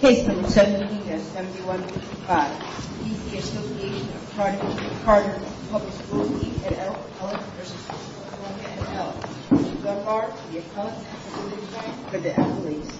Case Number 17 at 71 55.. C.C. Association of Chartered v. DC and L.O.V.E. v. C.C. Association of Chartered v. DC Gun Mark, the accountants, and the police department, for the L.O.V.E. Police.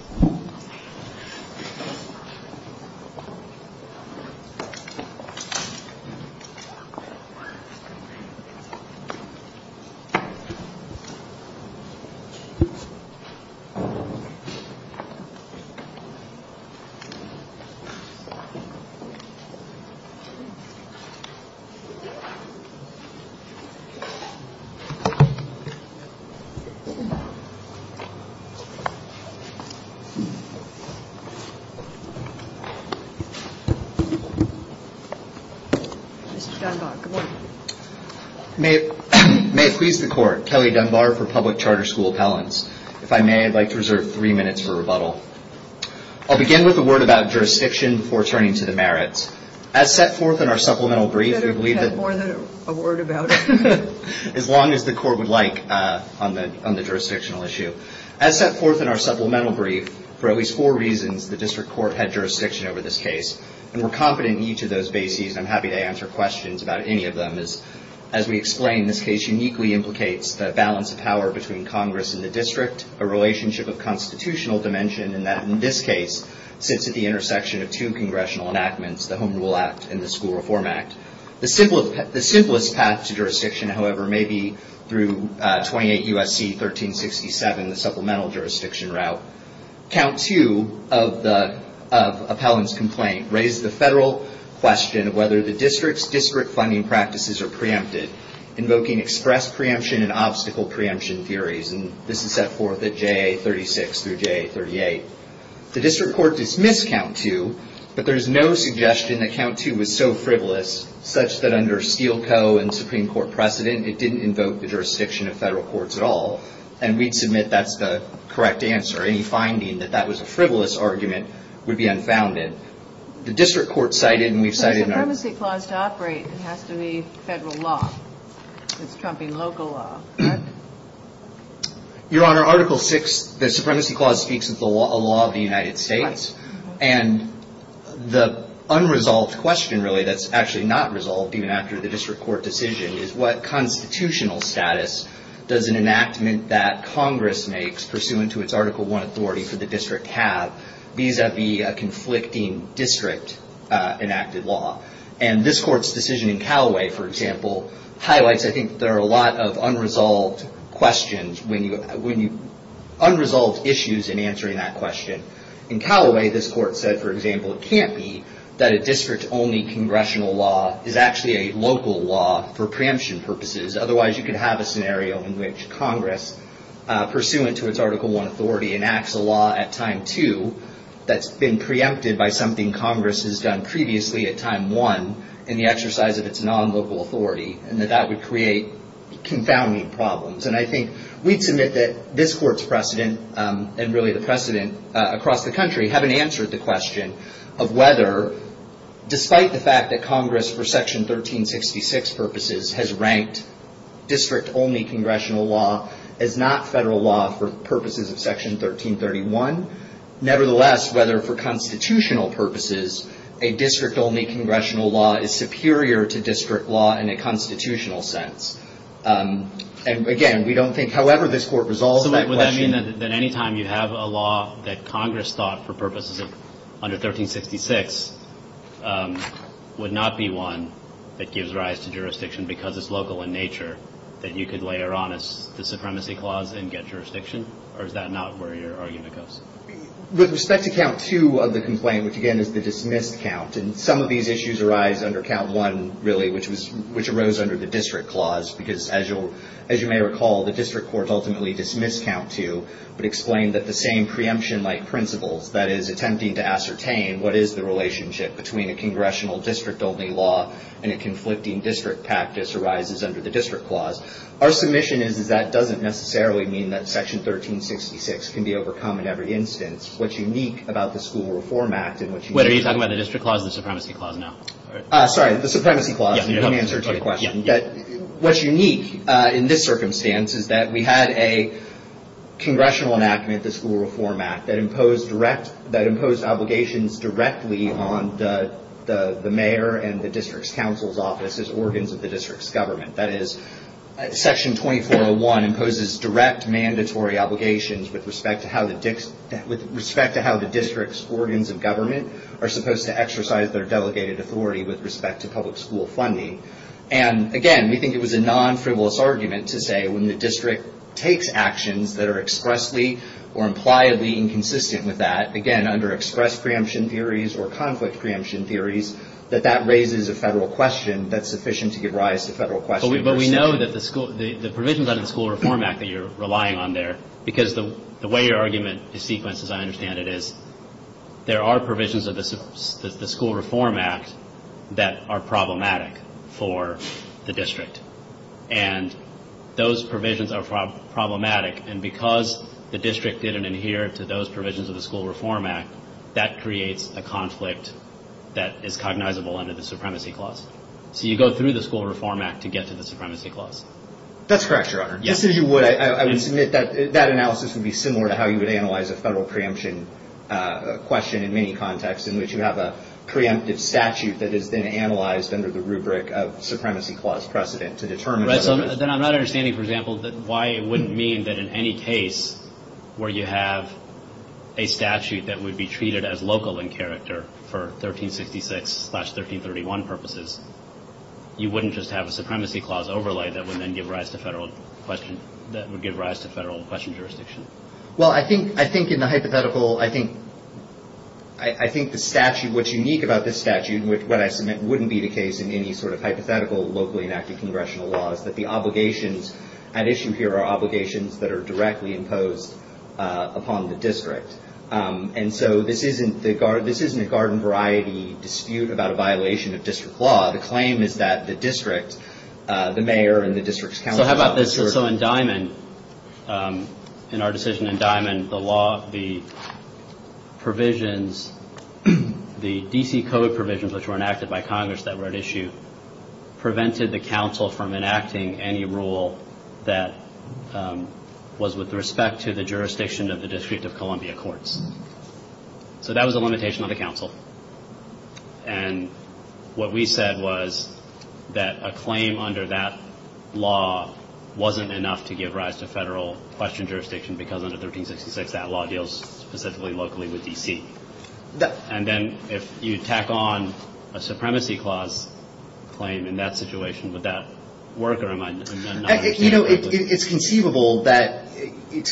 May it please the Court, Kelly Dunbar for Public Charter School Appellants. If I may, I'd like to reserve three minutes for rebuttal. I'll begin with a word about jurisdiction before turning to the merits. As set forth in our supplemental brief, we believe that... as long as the Court would like on the jurisdictional issue. As set forth in our supplemental brief, for at least four reasons, the District Court had jurisdiction over this case. And we're confident in each of those bases, and I'm happy to answer questions about any of them. As we explained, this case uniquely implicates the balance of power between Congress and the District, a relationship of constitutional dimension, and that, in this case, sits at the intersection of two congressional enactments, the Home Rule Act and the School Reform Act. The simplest path to jurisdiction, however, may be through 28 U.S.C. 1367, the supplemental jurisdiction route. Count 2 of the appellant's complaint raised the federal question of whether the District's district funding practices are preempted, invoking express preemption and obstacle preemption theories. And this is set forth at J.A. 36 through J.A. 38. The District Court dismissed Count 2, but there is no suggestion that Count 2 was so frivolous such that under Steele Co. and Supreme Court precedent, it didn't invoke the jurisdiction of federal courts at all. And we'd submit that's the correct answer. Any finding that that was a frivolous argument would be unfounded. The District Court cited, and we've cited in our- If there's a supremacy clause to operate, it has to be federal law. It's Trumping local law, correct? Your Honor, Article 6, the supremacy clause, speaks of the law of the United States. And the unresolved question, really, that's actually not resolved even after the District Court decision is, what constitutional status does an enactment that Congress makes pursuant to its Article 1 authority for the District have vis-a-vis a conflicting district enacted law? And this Court's decision in Callaway, for example, highlights, I think, there are a lot of unresolved questions when you- unresolved issues in answering that question. In Callaway, this Court said, for example, it can't be that a district-only congressional law is actually a local law for preemption purposes. Otherwise, you could have a scenario in which Congress, pursuant to its Article 1 authority, enacts a law at time 2 that's been preempted by something Congress has done previously at time 1 in the exercise of its non-local authority, and that that would create confounding problems. And I think we'd submit that this Court's precedent, and really the precedent across the country, haven't answered the question of whether, despite the fact that Congress, for Section 1366 purposes, has ranked district-only congressional law as not federal law for purposes of Section 1331, nevertheless, whether for constitutional purposes, a district-only congressional law is superior to district law in a constitutional sense. And again, we don't think, however this Court resolves that question- that any time you have a law that Congress thought, for purposes of under 1366, would not be one that gives rise to jurisdiction because it's local in nature, that you could later on, as the Supremacy Clause, and get jurisdiction? Or is that not where your argument goes? With respect to Count 2 of the complaint, which again is the dismissed count, and some of these issues arise under Count 1, really, which arose under the District Clause, because as you may recall, the District Court ultimately dismissed Count 2, but explained that the same preemption-like principles, that is, attempting to ascertain what is the relationship between a congressional district-only law and a conflicting district practice, arises under the District Clause. Our submission is that that doesn't necessarily mean that Section 1366 can be overcome in every instance. What's unique about the School Reform Act in which- Wait, are you talking about the District Clause or the Supremacy Clause now? Sorry, the Supremacy Clause. Let me answer the question. What's unique in this circumstance is that we had a congressional enactment, the School Reform Act, that imposed direct- that imposed obligations directly on the mayor and the district's council's offices, organs of the district's government. That is, Section 2401 imposes direct mandatory obligations with respect to how the district's organs of government are supposed to exercise their delegated authority with respect to public school funding. And again, we think it was a non-frivolous argument to say when the district takes actions that are expressly or impliedly inconsistent with that, again, under express preemption theories or conflict preemption theories, that that raises a federal question that's sufficient to give rise to federal questions. But we know that the school- the provisions under the School Reform Act that you're relying on there, because the way your argument is sequenced, as I understand it, is there are provisions of the School Reform Act that are problematic for the district. And those provisions are problematic. And because the district didn't adhere to those provisions of the School Reform Act, that creates a conflict that is cognizable under the Supremacy Clause. So you go through the School Reform Act to get to the Supremacy Clause. That's correct, Your Honor. Just as you would, I would submit that that analysis would be similar to how you would analyze a federal preemption question in many contexts in which you have a preemptive statute that is then analyzed under the rubric of Supremacy Clause precedent to determine- Right, so then I'm not understanding, for example, that why it wouldn't mean that in any case where you have a statute that would be treated as local in character for 1366-1331 purposes, you wouldn't just have a Supremacy Clause overlay that would then give rise to federal question- that would give rise to federal question jurisdiction. Well, I think- I think in the hypothetical- I think- I think the statute- what's unique about this statute, what I submit, wouldn't be the case in any sort of hypothetical locally-enacted congressional laws, that the obligations at issue here are obligations that are directly imposed upon the district. And so this isn't the garden- this isn't a garden variety dispute about a violation of district law. The claim is that the district, the mayor and the district's council- So how about this? So in Diamond, in our decision in Diamond, the law, the provisions, the D.C. Code provisions which were enacted by Congress that were at issue, prevented the council from enacting any rule that was with respect to the jurisdiction of the District of Columbia Courts. So that was a limitation on the council. And what we said was that a claim under that law wasn't enough to give rise to federal question jurisdiction because under 1366 that law deals specifically locally with D.C. And then if you tack on a supremacy clause claim in that situation, would that work? Or am I not understanding correctly? You know, it's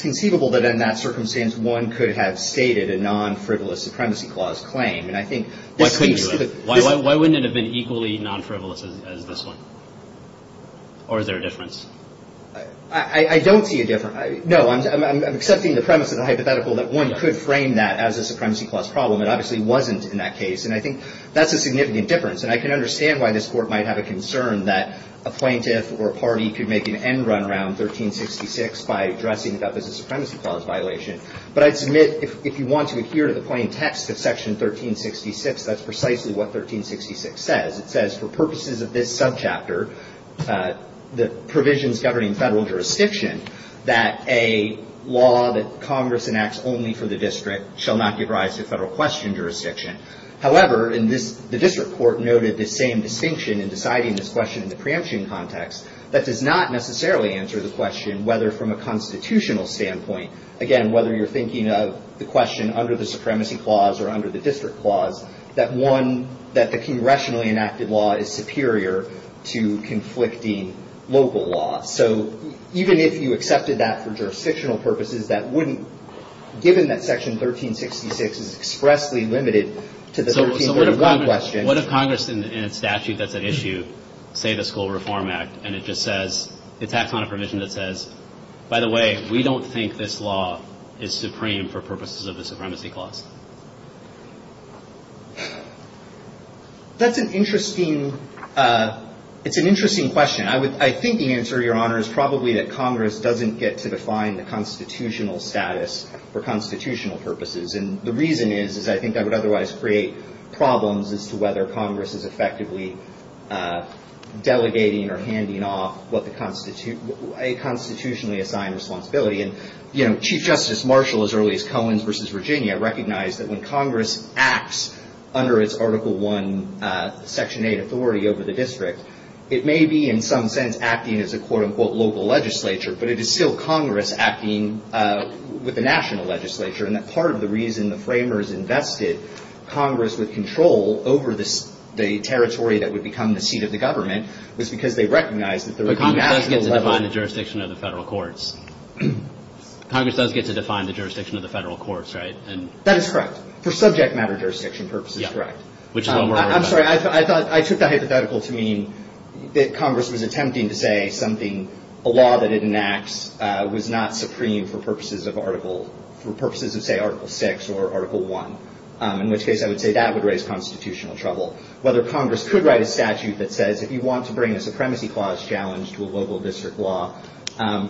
conceivable that in that circumstance one could have stated a non-frivolous supremacy clause claim. And I think- Why couldn't you have? Why wouldn't it have been equally non-frivolous as this one? Or is there a difference? I don't see a difference. No, I'm accepting the premise of the hypothetical that one could frame that as a supremacy clause problem. It obviously wasn't in that case. And I think that's a significant difference. And I can understand why this court might have a concern that a plaintiff or a party could make an end run around 1366 by addressing that as a supremacy clause violation. But I'd submit if you want to adhere to the plain text of section 1366, that's precisely what 1366 says. It says for purposes of this subchapter, the provisions governing federal jurisdiction, that a law that Congress enacts only for the district shall not give rise to federal question jurisdiction. However, the district court noted the same distinction in deciding this question in the preemption context that does not necessarily answer the question whether from a constitutional standpoint, again, whether you're thinking of the question under the supremacy clause or under the district clause, that the congressionally enacted law is superior to conflicting local law. So even if you accepted that for jurisdictional purposes, that wouldn't, given that section 1366 is expressly limited to the 1331 question. What if Congress, in a statute that's at issue, say the School Reform Act, and it just says, it's axed on a provision that says, by the way, we don't think this law is supreme for purposes of the supremacy clause? That's an interesting, it's an interesting question. I think the answer, Your Honor, is probably that Congress doesn't get to define the constitutional status for constitutional purposes. And the reason is, is I think that would otherwise create problems as to whether Congress is effectively delegating or handing off a constitutionally assigned responsibility. And Chief Justice Marshall, as early as Cohen's versus Virginia, recognized that when Congress acts under its Article I Section 8 authority over the district, it may be, in some sense, acting as a, quote unquote, local legislature. But it is still Congress acting with the national legislature. And that part of the reason the framers invested Congress with control over the territory that would become the seat of the government was because they recognized that there would be magical level. But Congress does get to define the jurisdiction of the federal courts. Congress does get to define the jurisdiction of the federal courts, right? That is correct. For subject matter jurisdiction purposes, correct. Which is what we're worried about. I'm sorry, I took that hypothetical to mean that Congress was attempting to say something, a law that it enacts, was not supreme for purposes of Article, for purposes of, say, Article VI or Article I. In which case, I would say that would raise constitutional trouble. Whether Congress could write a statute that says, if you want to bring a supremacy clause challenge to a local district law,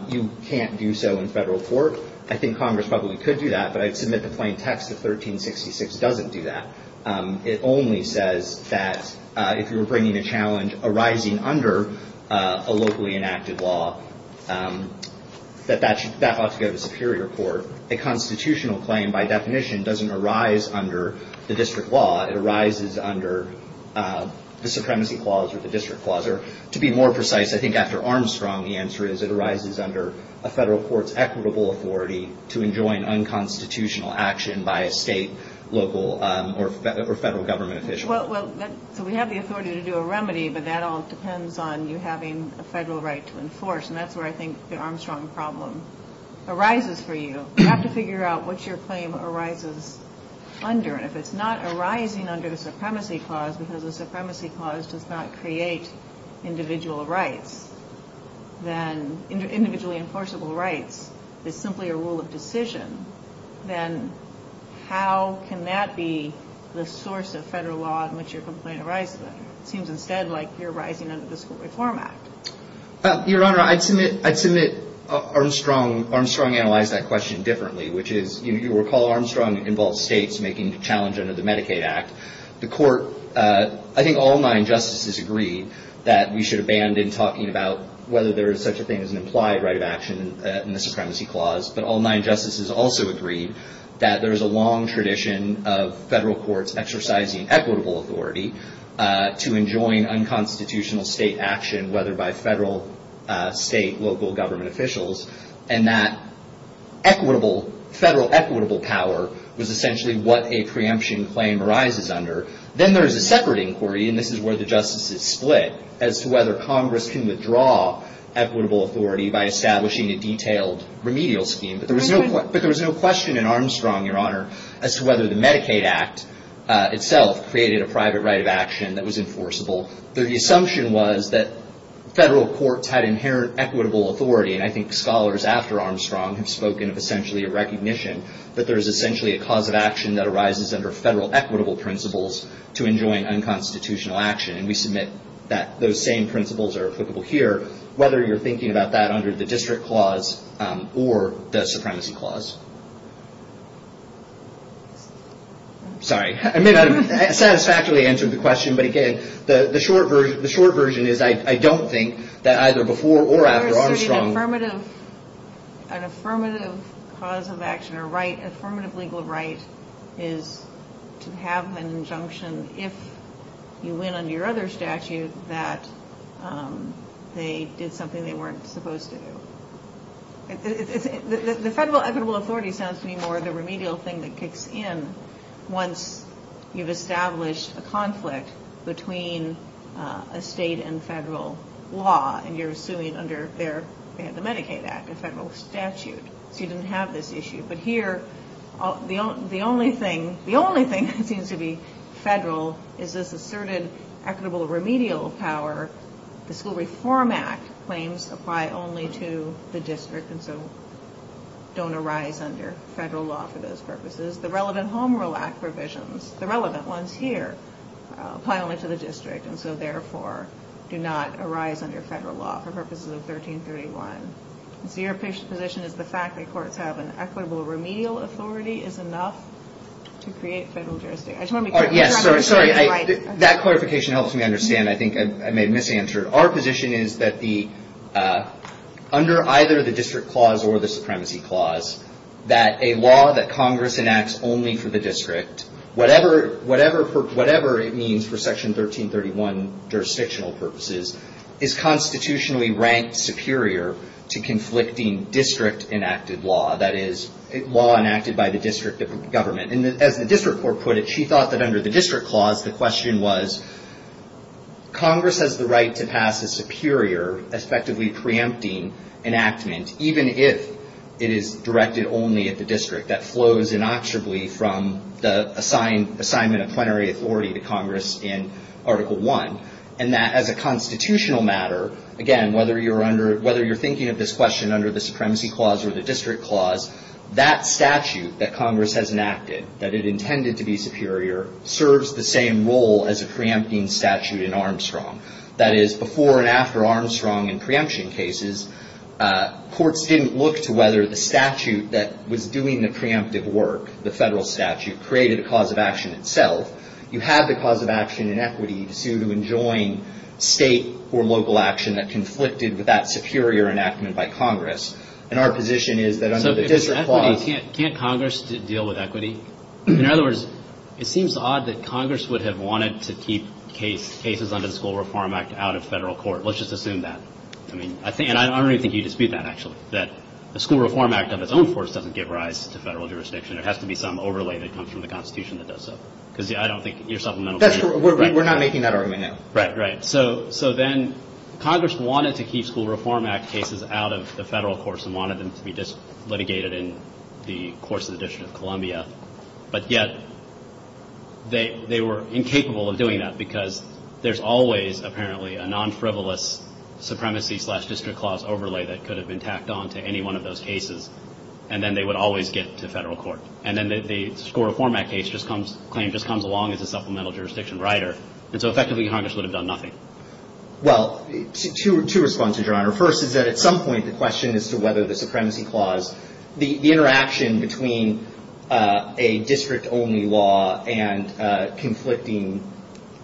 you can't do so in federal court, I think Congress probably could do that. But I'd submit the plain text of 1366 doesn't do that. It only says that if you were bringing a challenge arising under a locally enacted law, that ought to go to superior court. A constitutional claim, by definition, doesn't arise under the district law. It arises under the supremacy clause or the district clause. Or to be more precise, I think after Armstrong, the answer is it arises under a federal court's equitable authority to enjoin unconstitutional action by a state, local, or federal government official. Well, so we have the authority to do a remedy, but that all depends on you having a federal right to enforce. And that's where I think the Armstrong problem arises for you. You have to figure out what your claim arises under. And if it's not arising under the supremacy clause, because the supremacy clause does not create individual rights, then individually enforceable rights is simply a rule of decision. Then how can that be the source of federal law in which your complaint arises? It seems instead like you're arising under the School Reform Act. Your Honor, I'd submit Armstrong analyzed that question differently, which is you recall Armstrong involved states making the challenge under the Medicaid Act. The court, I think all nine justices agreed that we should abandon talking about whether there is such a thing as an implied right of action in the supremacy clause. But all nine justices also agreed that there is a long tradition of federal courts exercising equitable authority to enjoin unconstitutional state action, whether by federal, state, local government officials. And that federal equitable power was essentially what a preemption claim arises under. Then there is a separate inquiry, and this is where the justices split, as to whether Congress can withdraw equitable authority by establishing a detailed remedial scheme. But there was no question in Armstrong, Your Honor, as to whether the Medicaid Act itself created a private right of action that was enforceable. The assumption was that federal courts had inherent equitable authority. And I think scholars after Armstrong have spoken of essentially a recognition that there is essentially a cause of action that arises under federal equitable principles to enjoin unconstitutional action. And we submit that those same principles are applicable here. Whether you're thinking about that under the district clause or the supremacy clause. Sorry, I may not have satisfactorily answered the question, but again, the short version is I don't think that either before or after Armstrong. An affirmative cause of action or affirmative legal right is to have an injunction if you win under your other statute that they did something they weren't supposed to do. The federal equitable authority sounds to me more the remedial thing that kicks in once you've established a conflict between a state and federal law, and you're suing under the Medicaid Act, a federal statute. So you didn't have this issue. But here, the only thing that seems to be federal is this asserted equitable remedial power. The School Reform Act claims apply only to the district, and so don't arise under federal law for those purposes. The relevant Home Rule Act provisions, the relevant ones here, apply only to the district, and so therefore do not arise under federal law for purposes of 1331. So your position is the fact that courts have an equitable remedial authority is enough to create federal jurisdiction. Yes, sorry, sorry. That clarification helps me understand. I think I may have misanswered. Our position is that under either the district clause or the supremacy clause, that a law that Congress enacts only for the district, whatever it means for Section 1331 jurisdictional purposes, is constitutionally ranked superior to conflicting district enacted law, that is, law enacted by the district government. And as the district court put it, she thought that under the district clause, the question was, Congress has the right to pass a superior, effectively preempting enactment, even if it is directed only at the district that flows inactively from the assignment of plenary authority to Congress in Article I, and that as a constitutional matter, again, whether you're thinking of this question under the supremacy clause or the district clause, that statute that Congress has enacted, that it intended to be superior, serves the same role as a preempting statute in Armstrong. That is, before and after Armstrong in preemption cases, courts didn't look to whether the statute that was doing the preemptive work, the federal statute, created a cause of action itself. You have the cause of action in equity to sue to enjoin state or local action that conflicted with that superior enactment by Congress. And our position is that under the district clause- Can't Congress deal with equity? In other words, it seems odd that Congress would have wanted to keep cases under the School Reform Act out of federal court. Let's just assume that. I mean, and I don't even think you dispute that, actually, that the School Reform Act of its own force doesn't give rise to federal jurisdiction. There has to be some overlay that comes from the Constitution that does so, because I don't think your supplemental- We're not making that argument now. Right, right. So then Congress wanted to keep School Reform Act cases out of the federal courts and wanted them to be just litigated in the course of the District of Columbia. But yet, they were incapable of doing that because there's always, apparently, a non-frivolous supremacy-slash-district-clause overlay that could have been tacked on to any one of those cases, and then they would always get to federal court. And then the School Reform Act claim just comes along as a supplemental jurisdiction rider, and so effectively, Congress would have done nothing. Well, two responses, Your Honor. First is that at some point, the question as to whether the supremacy clause, the interaction between a district-only law and conflicting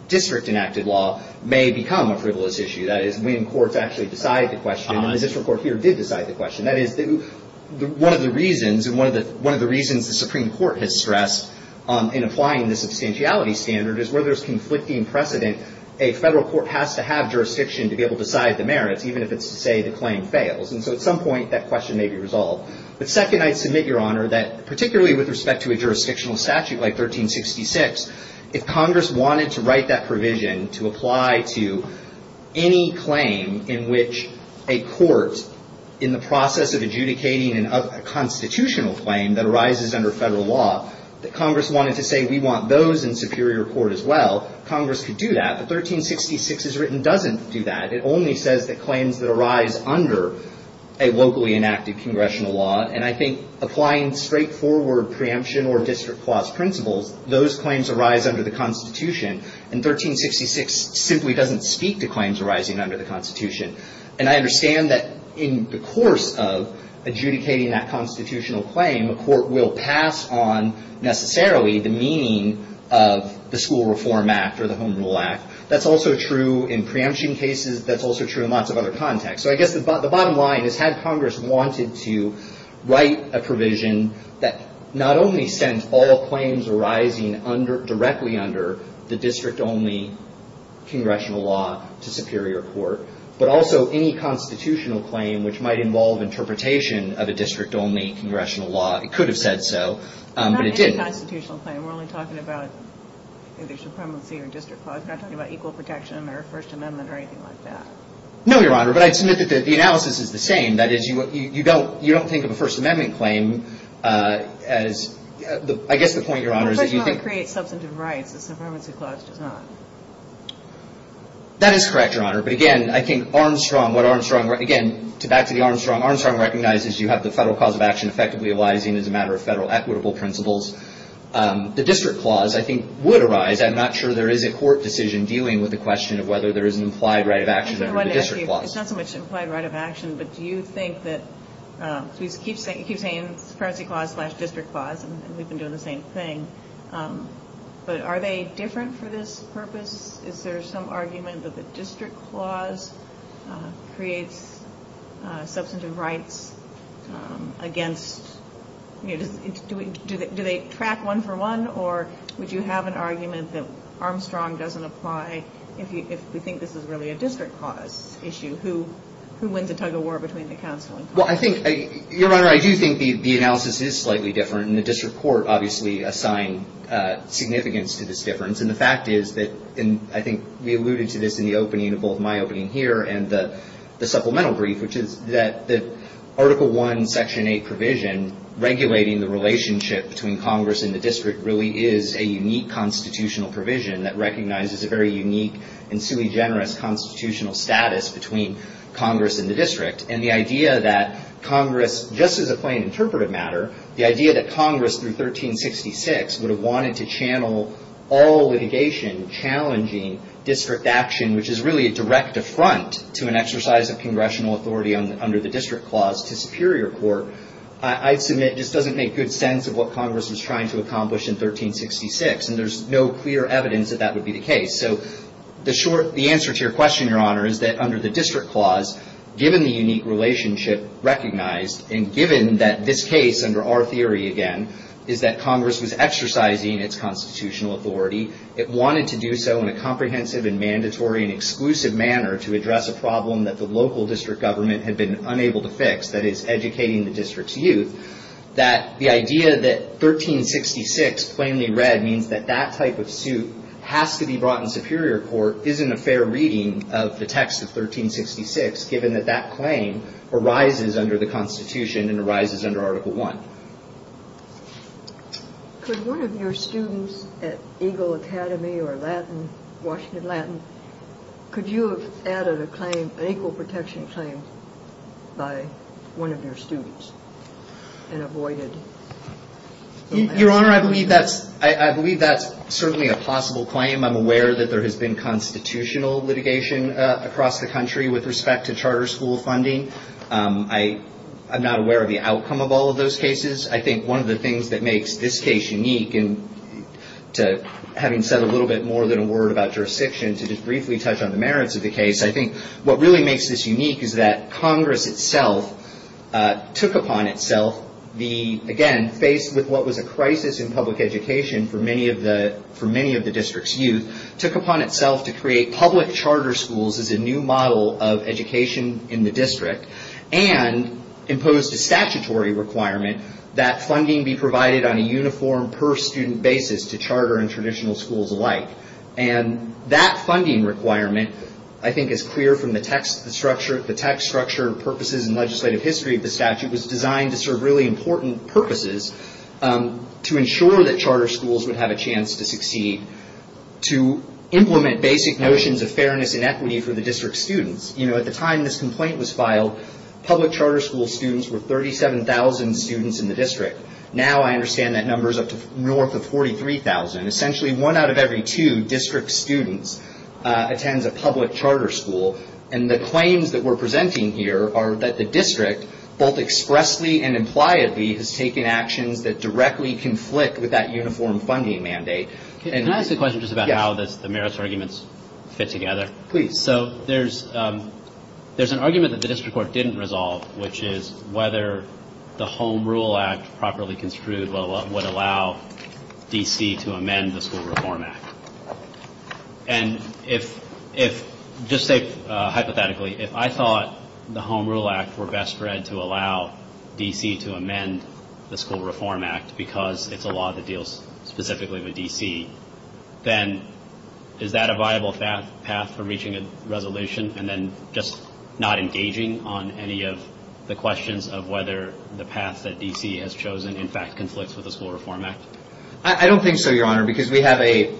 district-enacted law may become a frivolous issue. That is, when courts actually decide the question, and the district court here did decide the question. That is, one of the reasons, and one of the reasons the Supreme Court has stressed in applying the substantiality standard is where there's conflicting precedent, a federal court has to have jurisdiction to be able to decide the merits, even if it's to say the claim fails. And so at some point, that question may be resolved. But second, I'd submit, Your Honor, that particularly with respect to a jurisdictional statute like 1366, if Congress wanted to write that provision to apply to any claim in which a court in the process of adjudicating a constitutional claim that arises under federal law, that Congress wanted to say we want those in superior court as well, Congress could do that. But 1366 as written doesn't do that. It only says the claims that arise under a locally enacted congressional law. And I think applying straightforward preemption or district clause principles, those claims arise under the Constitution. And 1366 simply doesn't speak to claims arising under the Constitution. And I understand that in the course of adjudicating that constitutional claim, a court will pass on necessarily the meaning of the School Reform Act or the Home Rule Act. That's also true in preemption cases and that's also true in lots of other contexts. So I guess the bottom line is, had Congress wanted to write a provision that not only sent all claims arising directly under the district-only congressional law to superior court, but also any constitutional claim which might involve interpretation of a district-only congressional law, it could have said so, but it didn't. Not any constitutional claim. We're only talking about either supremacy or district clause. We're not talking about equal protection or First Amendment or anything like that. No, Your Honor. But I'd submit that the analysis is the same. That is, you don't think of a First Amendment claim as, I guess the point, Your Honor, is that you think- Well, the First Amendment creates substantive rights. The supremacy clause does not. That is correct, Your Honor. But again, I think Armstrong, what Armstrong, again, back to the Armstrong, Armstrong recognizes you have the federal cause of action effectively arising as a matter of federal equitable principles. The district clause, I think, would arise. I'm not sure there is a court decision in dealing with the question of whether there is an implied right of action under the district clause. I just wanted to ask you, it's not so much implied right of action, but do you think that, so he keeps saying it's a supremacy clause slash district clause, and we've been doing the same thing, but are they different for this purpose? Is there some argument that the district clause creates substantive rights against, do they track one for one, or would you have an argument that Armstrong doesn't apply if we think this is really a district clause issue? Who wins the tug-of-war between the counsel and counsel? Well, I think, Your Honor, I do think the analysis is slightly different, and the district court, obviously, assigned significance to this difference. And the fact is that, I think we alluded to this in the opening, in both my opening here and the supplemental brief, which is that the Article I, Section 8 provision regulating the relationship between Congress and the district really is a unique constitutional provision that recognizes a very unique and sui generis constitutional status between Congress and the district. And the idea that Congress, just as a plain interpretive matter, the idea that Congress, through 1366, would have wanted to channel all litigation challenging district action, which is really a direct affront to an exercise of congressional authority under the district clause to superior court, I submit just doesn't make good sense of what Congress was trying to accomplish in 1366. And there's no clear evidence that that would be the case. So, the answer to your question, Your Honor, is that under the district clause, given the unique relationship recognized, and given that this case, under our theory again, is that Congress was exercising its constitutional authority, it wanted to do so in a comprehensive and mandatory and exclusive manner to address a problem that the local district government had been unable to fix, that is, educating the district's youth, that the idea that 1366, plainly read, means that that type of suit has to be brought in superior court isn't a fair reading of the text of 1366, given that that claim arises under the Constitution and arises under Article One. Could one of your students at Eagle Academy or Washington Latin, could you have added a claim, an equal protection claim by one of your students? And avoided. Your Honor, I believe that's certainly a possible claim. I'm aware that there has been constitutional litigation across the country with respect to charter school funding. I'm not aware of the outcome of all of those cases. I think one of the things that makes this case unique, having said a little bit more than a word about jurisdiction, to just briefly touch on the merits of the case, I think what really makes this unique is that Congress itself took upon itself the, again, faced with what was a crisis in public education for many of the district's youth, took upon itself to create public charter schools as a new model of education in the district and imposed a statutory requirement that funding be provided on a uniform per-student basis to charter and traditional schools alike. And that funding requirement, I think, is clear from the text structure, the text structure, purposes, and legislative history of the statute was designed to serve really important purposes to ensure that charter schools would have a chance to succeed, to implement basic notions of fairness and equity for the district students. You know, at the time this complaint was filed, public charter school students were 37,000 students in the district. Now, I understand that number's up to north of 43,000. Essentially, one out of every two district students attends a public charter school. And the claims that we're presenting here are that the district, both expressly and impliedly, has taken actions that directly conflict with that uniform funding mandate. And- Can I ask a question just about how the merits arguments fit together? Please. So, there's an argument that the district court didn't resolve, which is whether the Home Rule Act properly construed would allow D.C. to amend the School Reform Act. And if, just hypothetically, if I thought the Home Rule Act were best read to allow D.C. to amend the School Reform Act because it's a law that deals specifically with D.C., then is that a viable path for reaching a resolution and then just not engaging on any of the questions of whether the path that D.C. has chosen, in fact, conflicts with the School Reform Act? I don't think so, Your Honor, because we have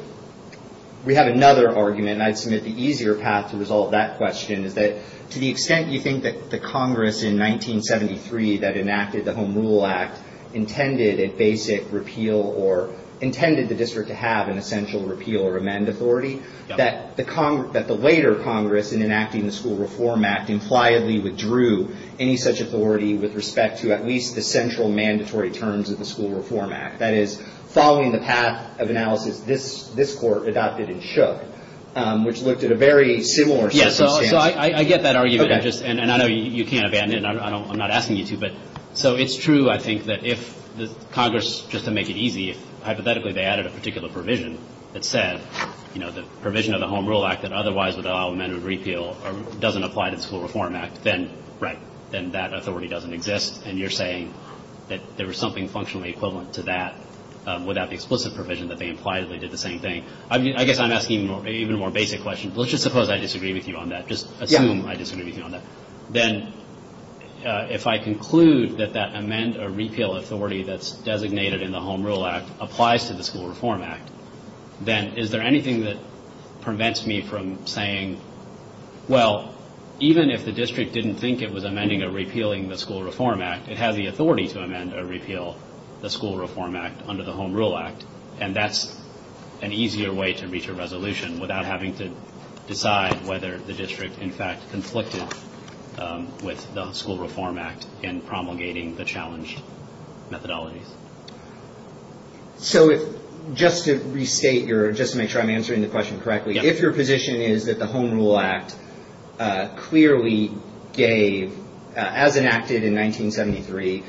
another argument, and I'd submit the easier path to resolve that question is that to the extent you think that the Congress in 1973 that enacted the Home Rule Act intended a basic repeal or intended the district to have an essential repeal or amend authority, that the later Congress, in enacting the School Reform Act, impliedly withdrew any such authority with respect to at least the central mandatory terms of the School Reform Act. That is, following the path of analysis this Court adopted and shook, which looked at a very similar circumstance. So I get that argument, and I know you can't abandon it, and I'm not asking you to, but so it's true, I think, that if Congress, just to make it easy, hypothetically, they added a particular provision that said the provision of the Home Rule Act that otherwise would allow amendment or repeal doesn't apply to the School Reform Act, then that authority doesn't exist, and you're saying that there was something functionally equivalent to that without the explicit provision that they impliedly did the same thing. I guess I'm asking even more basic questions. Let's just suppose I disagree with you on that. Just assume I disagree with you on that. Then, if I conclude that that amend or repeal authority that's designated in the Home Rule Act applies to the School Reform Act, then is there anything that prevents me from saying, well, even if the district didn't think it was amending or repealing the School Reform Act, it has the authority to amend or repeal the School Reform Act under the Home Rule Act, and that's an easier way to reach a resolution without having to decide whether the district, in fact, conflicted with the School Reform Act in promulgating the challenged methodologies. So, just to restate your, just to make sure I'm answering the question correctly, if your position is that the Home Rule Act clearly gave, as enacted in 1973,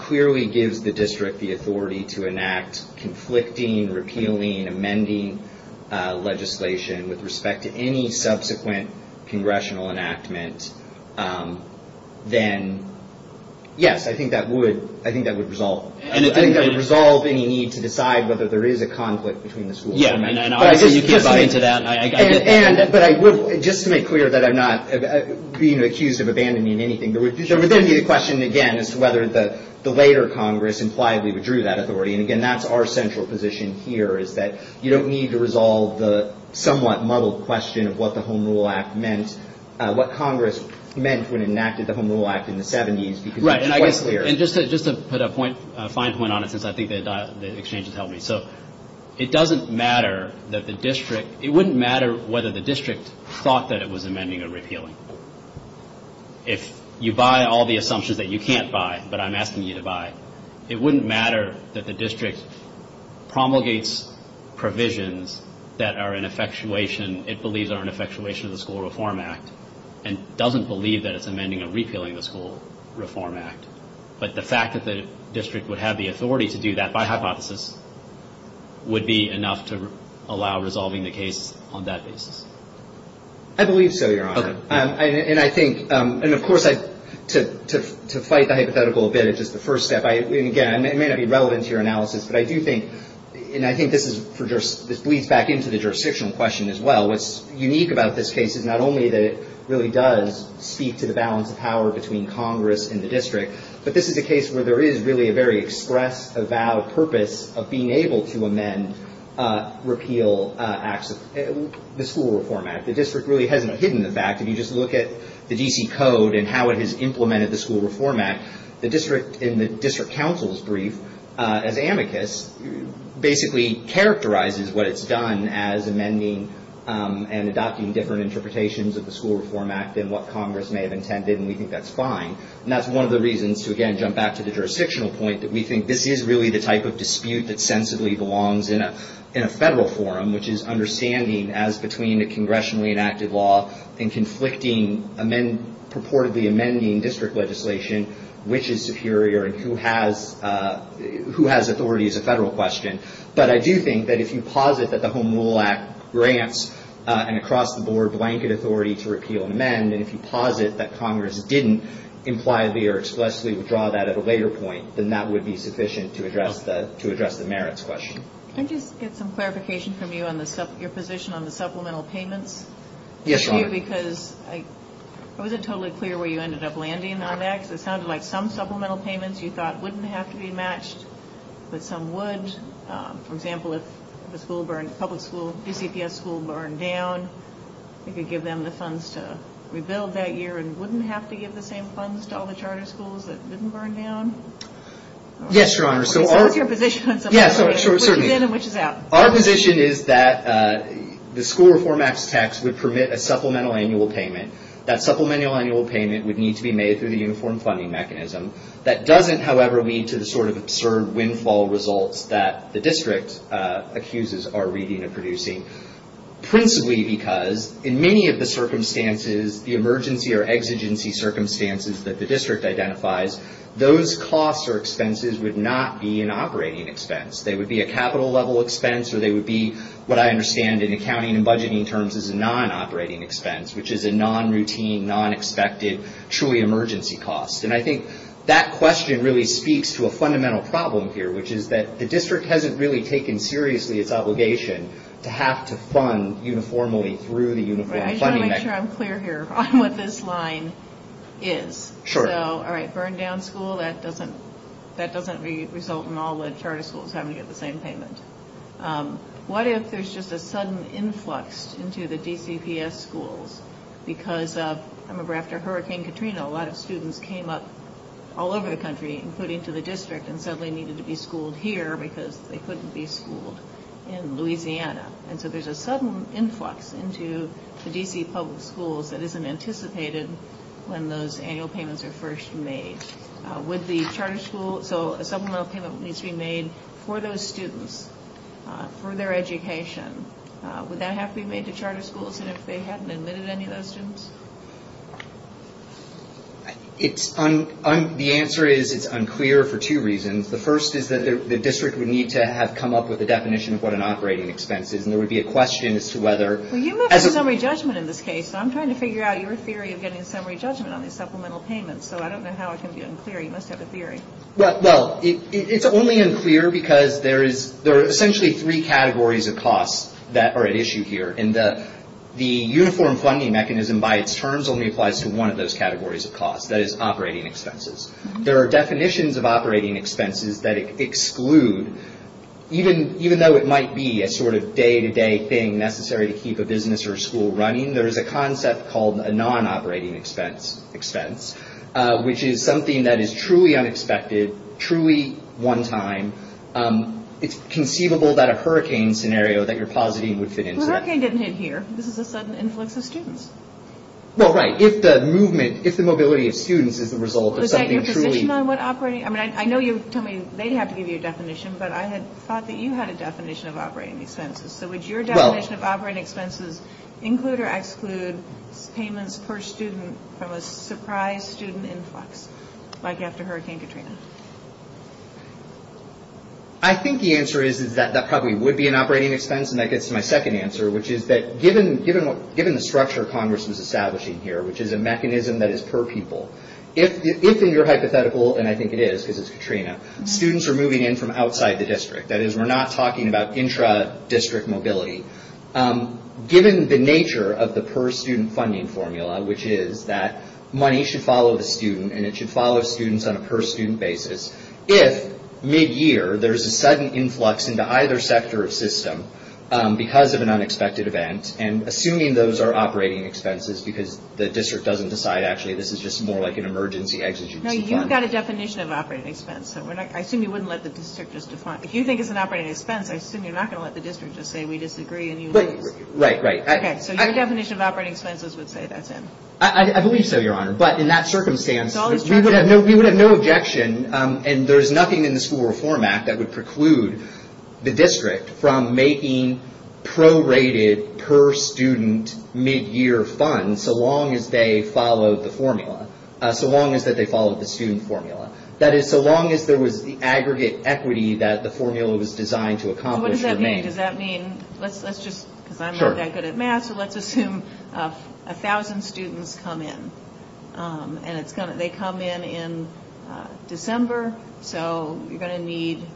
clearly gives the district the authority to enact conflicting, repealing, amending legislation with respect to any subsequent congressional enactment, then yes, I think that would resolve. I think that would resolve any need to decide whether there is a conflict between the School Reform Act. And obviously, you can't buy into that. But I would, just to make clear that I'm not being accused of abandoning anything, there would then be the question, again, as to whether the later Congress impliedly withdrew that authority, and again, that's our central position here, is that you don't need to resolve the somewhat muddled question of what the Home Rule Act meant, what Congress meant when it enacted the Home Rule Act in the 70s, because it's quite clear. And just to put a fine point on it, since I think the exchange has helped me, so it doesn't matter that the district, it wouldn't matter whether the district thought that it was amending or repealing. If you buy all the assumptions that you can't buy, but I'm asking you to buy, it wouldn't matter that the district promulgates provisions that are an effectuation, it believes are an effectuation of the School Reform Act, and doesn't believe that it's amending or repealing the School Reform Act. But the fact that the district would have the authority to do that by hypothesis would be enough to allow resolving the case on that basis. I believe so, Your Honor. Okay. And I think, and of course, to fight the hypothetical a bit, it's just the first step, and again, it may not be relevant to your analysis, but I do think, and I think this is for, this bleeds back into the jurisdictional question as well, what's unique about this case is not only that it really does speak to the balance of power between Congress and the district, but this is a case where there is really a very express, avowed purpose of being able to amend, repeal acts of the School Reform Act. The district really hasn't hidden the fact, if you just look at the D.C. Code and how it has implemented the School Reform Act, the district, in the district counsel's brief, as amicus, basically characterizes what it's done as amending and adopting different interpretations of the School Reform Act than what Congress And that's one of the reasons to, again, back to the jurisdictional point, that we think this is really the type of dispute that sensibly belongs in a federal forum, which is understanding, as between a congressionally enacted law and conflicting, purportedly amending district legislation, which is superior and who has authority is a federal question. But I do think that if you posit that the Home Rule Act grants an across-the-board blanket authority to repeal and amend, and if you posit that Congress didn't impliedly or explicitly withdraw that at a later point, then that would be sufficient to address the merits question. Can I just get some clarification from you on your position on the supplemental payments? Yes, Your Honor. Because I wasn't totally clear where you ended up landing on that, because it sounded like some supplemental payments you thought wouldn't have to be matched, but some would. For example, if the school burned, public school, DCPS school burned down, you could give them the funds to rebuild that year and wouldn't have to give the same funds to all the charter schools that didn't burn down? Yes, Your Honor. So what's your position on some of that? Yeah, so certainly. Which is in and which is out? Our position is that the school reform act's tax would permit a supplemental annual payment. That supplemental annual payment would need to be made through the uniform funding mechanism. That doesn't, however, lead to the sort of absurd windfall results that the district accuses are reading and producing. Principally because in many of the circumstances, the emergency or exigency circumstances that the district identifies, those costs or expenses would not be an operating expense. They would be a capital level expense, or they would be what I understand in accounting and budgeting terms as a non-operating expense, which is a non-routine, non-expected, truly emergency cost. And I think that question really speaks to a fundamental problem here, which is that the district hasn't really taken seriously its obligation to have to fund uniformly through the uniform funding mechanism. I'm not sure I'm clear here on what this line is. Sure. So, all right, burn down school, that doesn't result in all the charter schools having to get the same payment. What if there's just a sudden influx into the DCPS schools because of, I remember after Hurricane Katrina, a lot of students came up all over the country, including to the district, and suddenly needed to be schooled here because they couldn't be schooled in Louisiana. And so there's a sudden influx into the DC public schools that isn't anticipated when those annual payments are first made. Would the charter school, so a supplemental payment needs to be made for those students, for their education, would that have to be made to charter schools and if they hadn't admitted any of those students? The answer is it's unclear for two reasons. The first is that the district would need to have come up with a definition of what an operating expense is and there would be a question as to whether- Well, you moved to summary judgment in this case, so I'm trying to figure out your theory of getting summary judgment on these supplemental payments, so I don't know how it can be unclear. You must have a theory. Well, it's only unclear because there is, there are essentially three categories of costs that are at issue here. And the uniform funding mechanism by its terms only applies to one of those categories of costs, that is operating expenses. There are definitions of operating expenses that exclude, even though it might be a sort of day-to-day thing necessary to keep a business or a school running, there is a concept called a non-operating expense, expense, which is something that is truly unexpected, truly one-time, it's conceivable that a hurricane scenario that you're positing would fit into that. Well, hurricane didn't hit here. This is a sudden influx of students. Well, right, if the movement, if the mobility of students is the result of something truly- Is that your position on what operating, I mean, I know you're telling me they'd have to give you a definition, but I had thought that you had a definition of operating expenses. So would your definition of operating expenses include or exclude payments per student from a surprise student influx, like after Hurricane Katrina? I think the answer is that that probably would be an operating expense, and that gets to my second answer, which is that given the structure Congress was establishing here, which is a mechanism that is per people, if in your hypothetical, and I think it is, because it's Katrina, students are moving in from outside the district, that is, we're not talking about intra-district mobility, given the nature of the per-student funding formula, which is that money should follow the student, and it should follow students on a per-student basis, if mid-year, there's a sudden influx into either sector of system, because of an unexpected event, and assuming those are operating expenses, because the district doesn't decide, actually, this is just more like an emergency exit. No, you've got a definition of operating expense, so I assume you wouldn't let the district just define, if you think it's an operating expense, I assume you're not gonna let the district just say, we disagree, and you lose. Right, right. Okay, so your definition of operating expenses would say that's in. I believe so, Your Honor, but in that circumstance, we would have no objection, and there's nothing in the School Reform Act that would preclude the district from making prorated per-student mid-year funds, so long as they followed the formula, so long as that they followed the student formula. That is, so long as there was the aggregate equity that the formula was designed to accomplish or maintain. So what does that mean? Does that mean, let's just, because I'm not that good at math, so let's assume 1,000 students come in, and they come in in December, so you're gonna need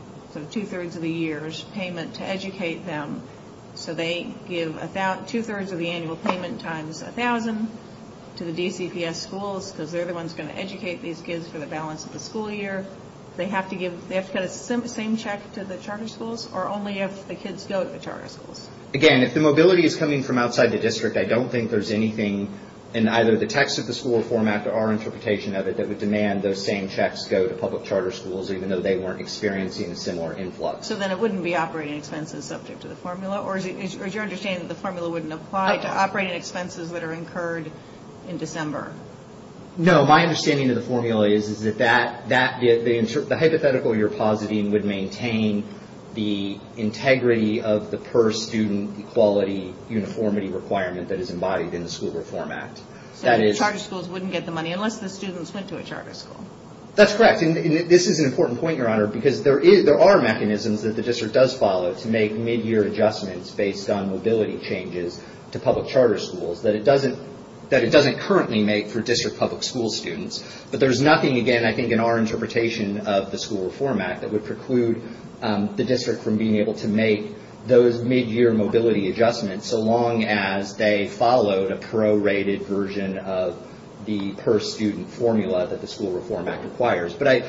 2 3rds of the year's payment to educate them, so they give 2 3rds of the annual payment times 1,000 to the DCPS schools, because they're the ones gonna educate these kids for the balance of the school year. They have to get a same check to the charter schools, or only if the kids go to the charter schools? Again, if the mobility is coming from outside the district, I don't think there's anything in either the text of the School Reform Act or our interpretation of it that would demand those same checks go to public charter schools, So then it wouldn't be operating expenses subject to the formula, or is your understanding that the formula wouldn't apply to operating expenses that are incurred in December? No, my understanding of the formula is that the hypothetical you're positing would maintain the integrity of the per-student equality uniformity requirement that is embodied in the School Reform Act. So the charter schools wouldn't get the money, unless the students went to a charter school? That's correct, and this is an important point, Your Honor, because there are mechanisms that the district does follow to make mid-year adjustments based on mobility changes to public charter schools that it doesn't currently make for district public school students. But there's nothing, again, I think, in our interpretation of the School Reform Act that would preclude the district from being able to make those mid-year mobility adjustments so long as they followed a pro-rated version of the per-student formula that the School Reform Act requires. But I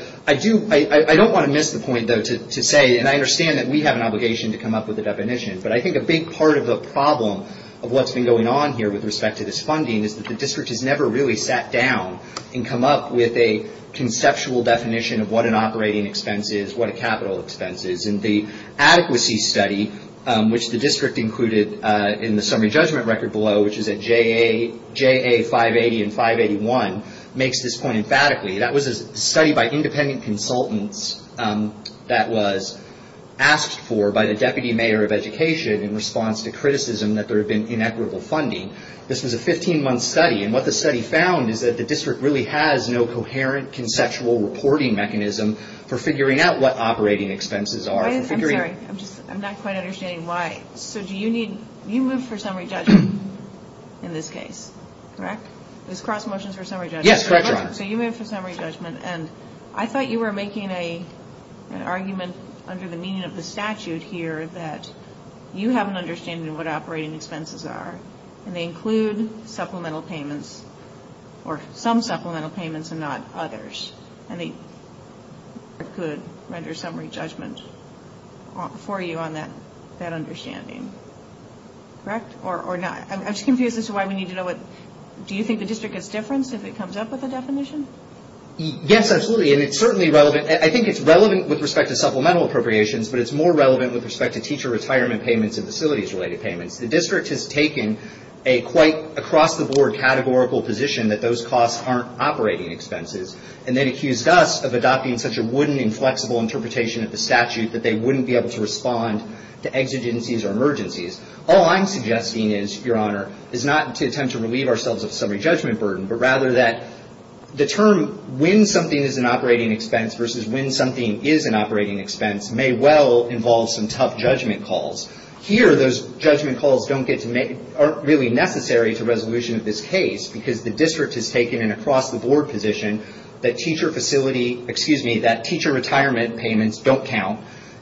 don't want to miss the point, though, to say, and I understand that we have an obligation to come up with a definition, but I think a big part of the problem of what's been going on here with respect to this funding is that the district has never really sat down and come up with a conceptual definition of what an operating expense is, what a capital expense is. And the adequacy study, which the district included in the summary judgment record below, which is at JA 580 and 581, makes this point emphatically. That was a study by independent consultants that was asked for by the Deputy Mayor of Education in response to criticism that there had been inequitable funding. This was a 15-month study, and what the study found is that the district really has no coherent conceptual reporting mechanism for figuring out what operating expenses are. I'm sorry, I'm just, I'm not quite understanding why. So do you need, you moved for summary judgment in this case, correct? This cross-motion's for summary judgment. Yes, correct, Your Honor. So you moved for summary judgment, and I thought you were making an argument under the meaning of the statute here that you have an understanding of what operating expenses are, and they include supplemental payments, or some supplemental payments and not others, and they could render summary judgment for you on that understanding, correct? Or not? I'm just confused as to why we need to know what, do you think the district gets difference if it comes up with a definition? Yes, absolutely, and it's certainly relevant. I think it's relevant with respect to supplemental appropriations, but it's more relevant with respect to teacher retirement payments and facilities-related payments. The district has taken a quite across-the-board categorical position that those costs aren't operating expenses, and then accused us of adopting such a wooden, inflexible interpretation of the statute that they wouldn't be able to respond to exigencies or emergencies. All I'm suggesting is, Your Honor, is not to attempt to relieve ourselves of summary judgment burden, but rather that the term when something is an operating expense versus when something is an operating expense may well involve some tough judgment calls. Here, those judgment calls aren't really necessary to resolution of this case, because the district has taken an across-the-board position that teacher retirement payments don't count,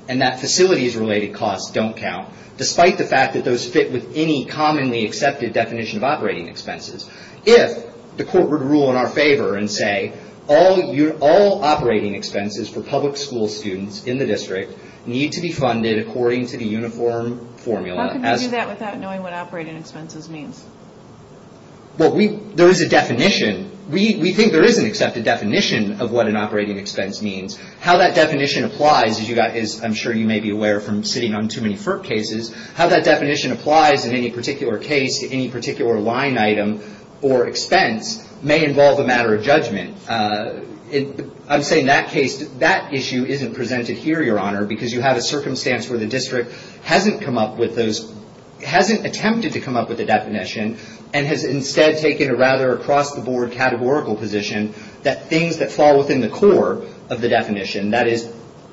and that facilities-related costs don't count, despite the fact that those fit with any commonly accepted definition of operating expenses. If the court would rule in our favor and say all operating expenses for public school students in the district need to be funded according to the uniform formula. How can we do that without knowing what operating expenses means? Well, there is a definition. We think there is an accepted definition of what an operating expense means. How that definition applies, as I'm sure you may be aware from sitting on too many FERC cases, how that definition applies in any particular case to any particular line item or expense may involve a matter of judgment. I'm saying that case, that issue isn't presented here, Your Honor, because you have a circumstance where the district hasn't attempted to come up with a definition and has instead taken a rather across-the-board categorical position that things that fall within the core of the definition, that is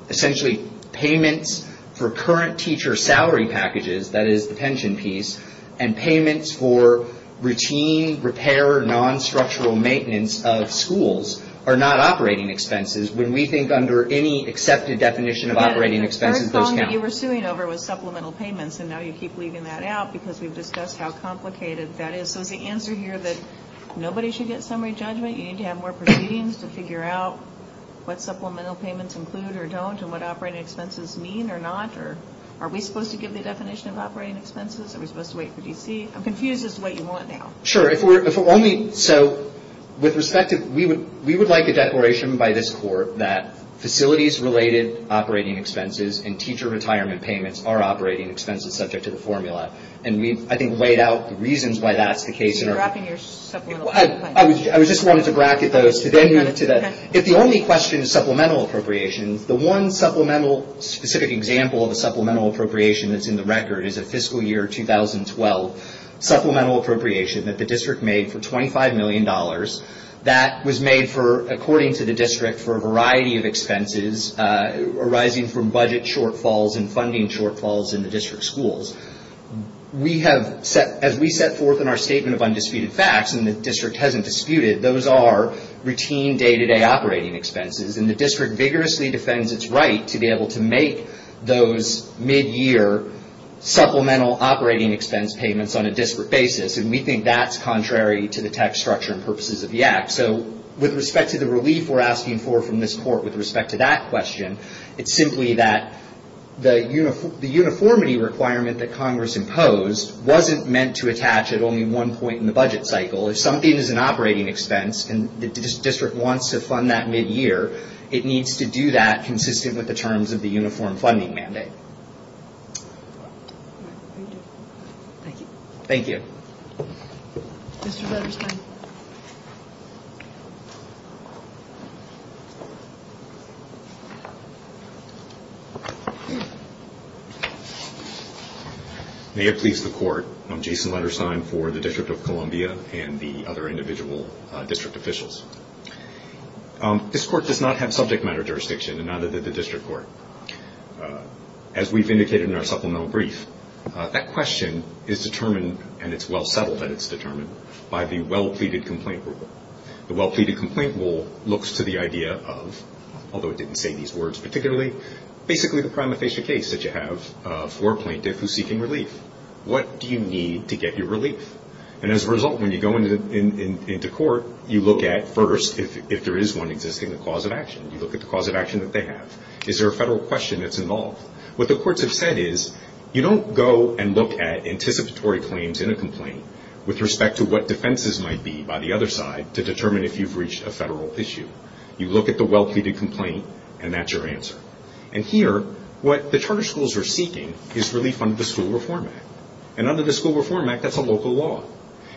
essentially payments for current teacher salary packages, that is the pension piece, and payments for routine repair, non-structural maintenance of schools are not operating expenses when we think under any accepted definition of operating expenses those count. The first problem that you were suing over was supplemental payments and now you keep leaving that out because we've discussed how complicated that is. So is the answer here that nobody should get summary judgment? You need to have more proceedings to figure out what supplemental payments include or don't and what operating expenses mean or not? Are we supposed to give the definition of operating expenses? Are we supposed to wait for D.C.? I'm confused as to what you want now. Sure, if we're only, so with respect to, we would like a declaration by this court that facilities-related operating expenses and teacher retirement payments are operating expenses subject to the formula. And we've, I think, laid out the reasons why that's the case. You're wrapping your supplemental payments. I was just wanting to bracket those to then move to the, if the only question is supplemental appropriations, the one specific example of a supplemental appropriation that's in the record is a fiscal year 2012 supplemental appropriation that the district made for $25 million that was made for, according to the district, for a variety of expenses arising from budget shortfalls and funding shortfalls in the district schools. We have set, as we set forth in our statement of undisputed facts, and the district hasn't disputed, those are routine day-to-day operating expenses. And the district vigorously defends its right to be able to make those mid-year supplemental operating expense payments on a district basis. And we think that's contrary to the tax structure and purposes of the act. So with respect to the relief we're asking for from this court, with respect to that question, it's simply that the uniformity requirement that Congress imposed wasn't meant to attach at only one point in the budget cycle. If something is an operating expense and the district wants to fund that mid-year, it needs to do that consistent with the terms of the uniform funding mandate. Thank you. Thank you. Mr. Letterstein. May it please the court, I'm Jason Letterstein for the District of Columbia and the other individual district officials. This court does not have subject matter jurisdiction and neither did the district court. As we've indicated in our supplemental brief, that question is determined and it's well settled that it's determined by the well-pleaded complaint rule. The well-pleaded complaint rule looks to the idea of, although it didn't say these words particularly, basically the prima facie case that you have for a plaintiff who's seeking relief. What do you need to get your relief? And as a result, when you go into court, you look at first, if there is one existing, the cause of action. You look at the cause of action that they have. Is there a federal question that's involved? What the courts have said is, you don't go and look at anticipatory claims in a complaint with respect to what defenses might be by the other side to determine if you've reached a federal issue. You look at the well-pleaded complaint and that's your answer. And here, what the charter schools are seeking is relief under the School Reform Act. And under the School Reform Act, that's a local law.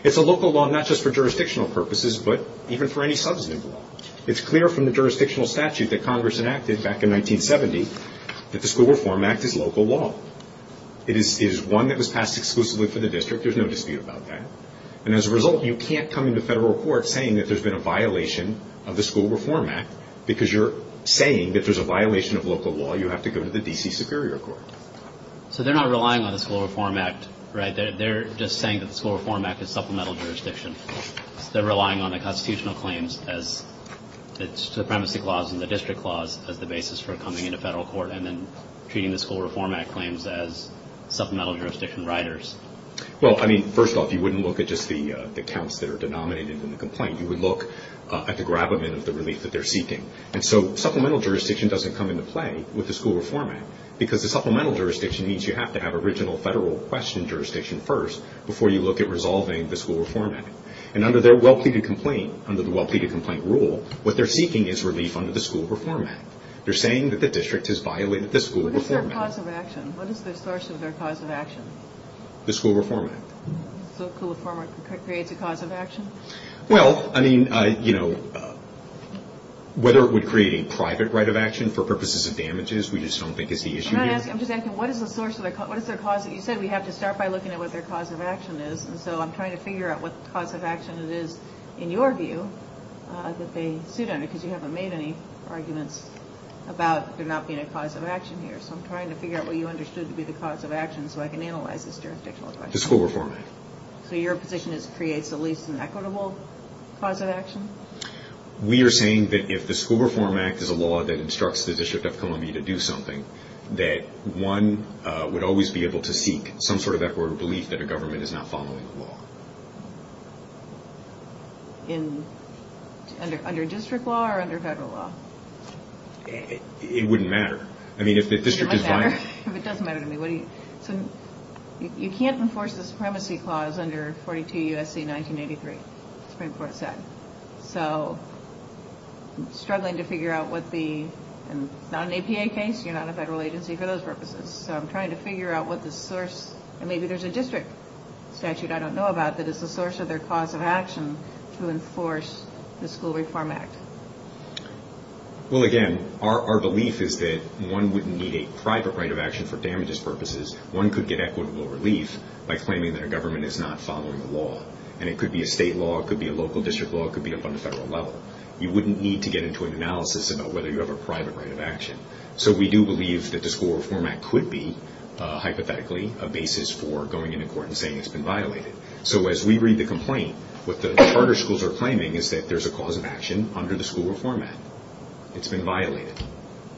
It's a local law, not just for jurisdictional purposes, but even for any substantive law. It's clear from the jurisdictional statute that Congress enacted back in 1970 that the School Reform Act is local law. It is one that was passed exclusively for the district. There's no dispute about that. And as a result, you can't come into federal court saying that there's been a violation of the School Reform Act because you're saying that there's a violation of local law. You have to go to the D.C. Superior Court. So they're not relying on the School Reform Act, right? They're just saying that the School Reform Act is supplemental jurisdiction. They're relying on the constitutional claims as the supremacy clause and the district clause as the basis for coming into federal court and then treating the School Reform Act claims as supplemental jurisdiction riders. Well, I mean, first off, you wouldn't look at just the counts that are denominated in the complaint. You would look at the gravamen of the relief that they're seeking. And so supplemental jurisdiction doesn't come into play with the School Reform Act because the supplemental jurisdiction means you have to have original federal question jurisdiction first before you look at resolving the School Reform Act. And under their well-pleaded complaint, under the well-pleaded complaint rule, what they're seeking is relief under the School Reform Act. They're saying that the district has violated the School Reform Act. What is their cause of action? What is the source of their cause of action? The School Reform Act. So School Reform Act creates a cause of action? Well, I mean, you know, whether it would create a private right of action for purposes of damages, we just don't think it's the issue here. I'm not asking, I'm just asking, what is the source of their, what is their cause? You said we have to start by looking at what their cause of action is. And so I'm trying to figure out what cause of action it is, in your view, that they suit under, because you haven't made any arguments about there not being a cause of action here. So I'm trying to figure out what you understood to be the cause of action so I can analyze this jurisdictional question. The School Reform Act. So your position is it creates at least an equitable cause of action? We are saying that if the School Reform Act is a law that instructs the District of Columbia to do something, that one would always be able to seek some sort of equitable belief that a government is not following the law. In, under district law or under federal law? It wouldn't matter. I mean, if the district is violent. It might matter. If it doesn't matter to me, what do you, so you can't enforce the Supremacy Clause under 42 U.S.C. 1983, Supreme Court said. So I'm struggling to figure out what the, and it's not an APA case, you're not a federal agency for those purposes. So I'm trying to figure out what the source, and maybe there's a district statute I don't know about that is the source of their cause of action to enforce the School Reform Act. Well, again, our belief is that one wouldn't need a private right of action for damages purposes. One could get equitable relief by claiming that a government is not following the law. And it could be a state law, it could be a local district law, it could be up on the federal level. You wouldn't need to get into an analysis about whether you have a private right of action. So we do believe that the School Reform Act could be, hypothetically, a basis for going into court and saying it's been violated. So as we read the complaint, what the charter schools are claiming is that there's a cause of action under the School Reform Act. It's been violated.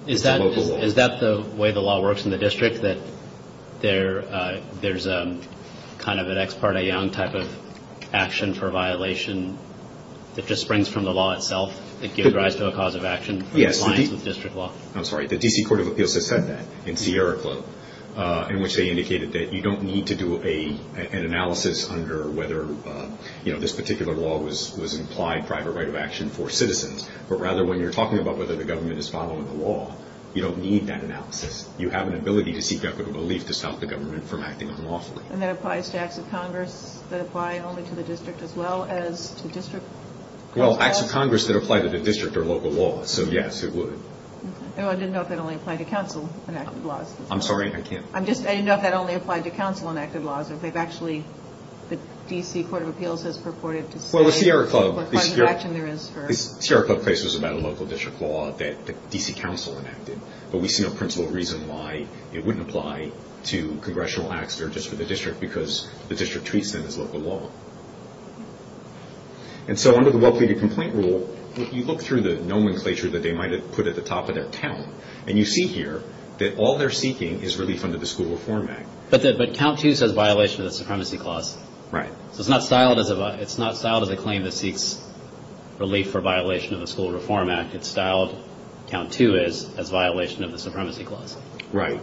It's a local law. Is that the way the law works in the district, that there's kind of an ex parte young type of action for violation that just springs from the law itself, that gives rise to a cause of action for compliance with district law? I'm sorry, the D.C. Court of Appeals has said that. In Sierra Club, in which they indicated that you don't need to do an analysis under whether this particular law was an implied private right of action for citizens. But rather, when you're talking about whether the government is following the law, you don't need that analysis. You have an ability to seek equitable relief to stop the government from acting unlawfully. And that applies to acts of Congress that apply only to the district, as well as to district? Well, acts of Congress that apply to the district are local laws, so yes, it would. No, I didn't know if that only applied to council-enacted laws. I'm sorry, I can't. I'm just, I didn't know if that only applied to council-enacted laws, or if they've actually, the D.C. Court of Appeals has purported to say what cause of action there is for. Sierra Club case was about a local district law that the D.C. Council enacted. But we see no principle reason why it wouldn't apply to congressional acts, or just for the district, because the district treats them as local law. And so, under the well-pleaded complaint rule, you look through the nomenclature that they might have put at the top of their count, and you see here that all they're seeking is relief under the School Reform Act. But count two says violation of the Supremacy Clause. Right. So it's not styled as a claim that seeks relief for violation of the School Reform Act. It's styled, count two is, as violation of the Supremacy Clause. Right.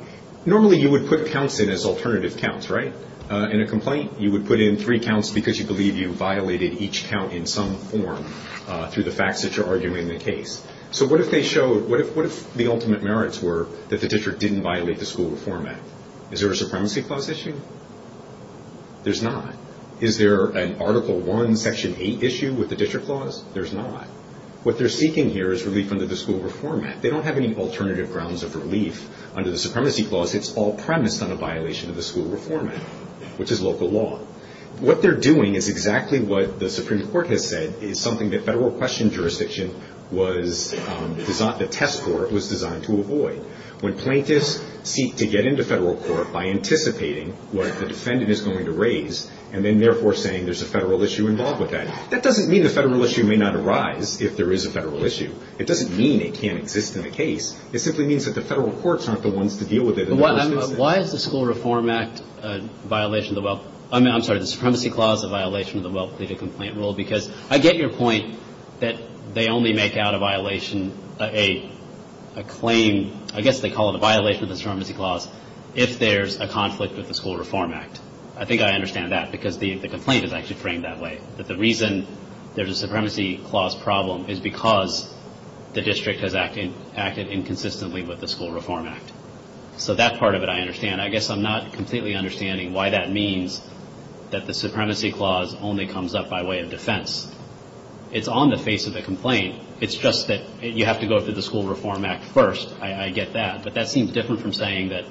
Normally, you would put counts in as alternative counts, right? In a complaint, you would put in three counts because you believe you violated each count in some form through the facts that you're arguing in the case. So what if the ultimate merits were that the district didn't violate the School Reform Act? Is there a Supremacy Clause issue? There's not. Is there an Article I, Section 8 issue with the District Clause? There's not. What they're seeking here is relief under the School Reform Act. They don't have any alternative grounds of relief under the Supremacy Clause. It's all premised on a violation of the School Reform Act, which is local law. What they're doing is exactly what the Supreme Court has said is something that federal question jurisdiction was designed, the test court was designed to avoid. When plaintiffs seek to get into federal court by anticipating what the defendant is going to raise and then therefore saying there's a federal issue involved with that, that doesn't mean the federal issue may not arise if there is a federal issue. It doesn't mean it can't exist in the case. It simply means that the federal courts aren't the ones to deal with it in the first instance. Why is the School Reform Act a violation of the well, I mean, I'm sorry, the Supremacy Clause a violation of the Well-Completed Complaint Rule because I get your point that they only make out a violation, a claim, I guess they call it a violation of the Supremacy Clause if there's a conflict with the School Reform Act. I think I understand that because the complaint is actually framed that way. That the reason there's a Supremacy Clause problem is because the district has acted inconsistently with the School Reform Act. So that part of it I understand. I guess I'm not completely understanding why that means that the Supremacy Clause only comes up by way of defense. It's on the face of the complaint. It's just that you have to go through the School Reform Act first. I get that. But that seems different from saying that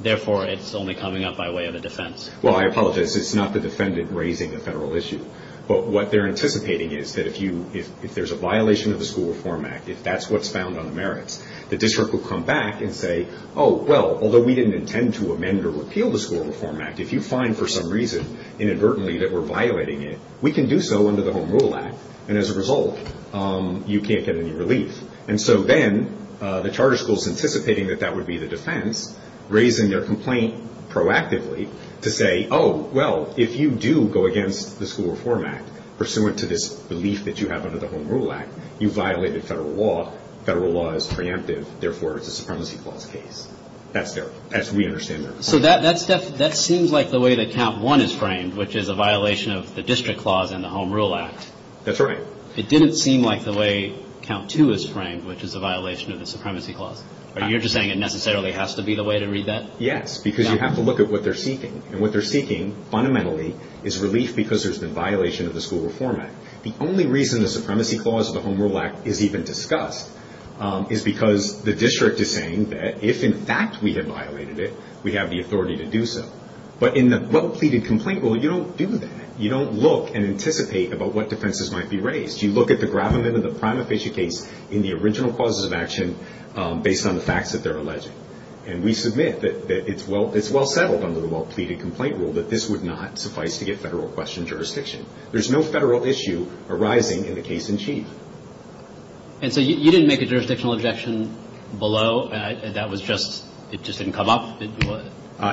therefore it's only coming up by way of a defense. Well, I apologize. It's not the defendant raising the federal issue. But what they're anticipating is that if you, if there's a violation of the School Reform Act, if that's what's found on the merits, the district will come back and say, oh, well, although we didn't intend to amend or repeal the School Reform Act, if you find for some reason inadvertently that we're violating it, we can do so under the Home Rule Act. And as a result, you can't get any relief. And so then the charter school's anticipating that that would be the defense, raising their complaint proactively to say, oh, well, if you do go against the School Reform Act pursuant to this belief that you have under the Home Rule Act, you violated federal law. Federal law is preemptive. Therefore, it's a Supremacy Clause case. That's their, that's, we understand that. So that seems like the way that count one is framed, which is a violation of the District Clause and the Home Rule Act. That's right. It didn't seem like the way count two is framed, which is a violation of the Supremacy Clause. Are you're just saying it necessarily has to be the way to read that? Yes, because you have to look at what they're seeking. And what they're seeking, fundamentally, is relief because there's been violation of the School Reform Act. The only reason the Supremacy Clause of the Home Rule Act is even discussed is because the district is saying that if in fact we have violated it, we have the authority to do so. But in the well-pleaded complaint, well, you don't do that. You don't look and anticipate about what defenses might be raised. You look at the gravamen of the prima facie case in the original causes of action based on the facts that they're alleging. And we submit that it's well settled under the well-pleaded complaint rule that this would not suffice to get federal question jurisdiction. There's no federal issue arising in the case in chief. And so you didn't make a jurisdictional objection below? That was just, it just didn't come up? It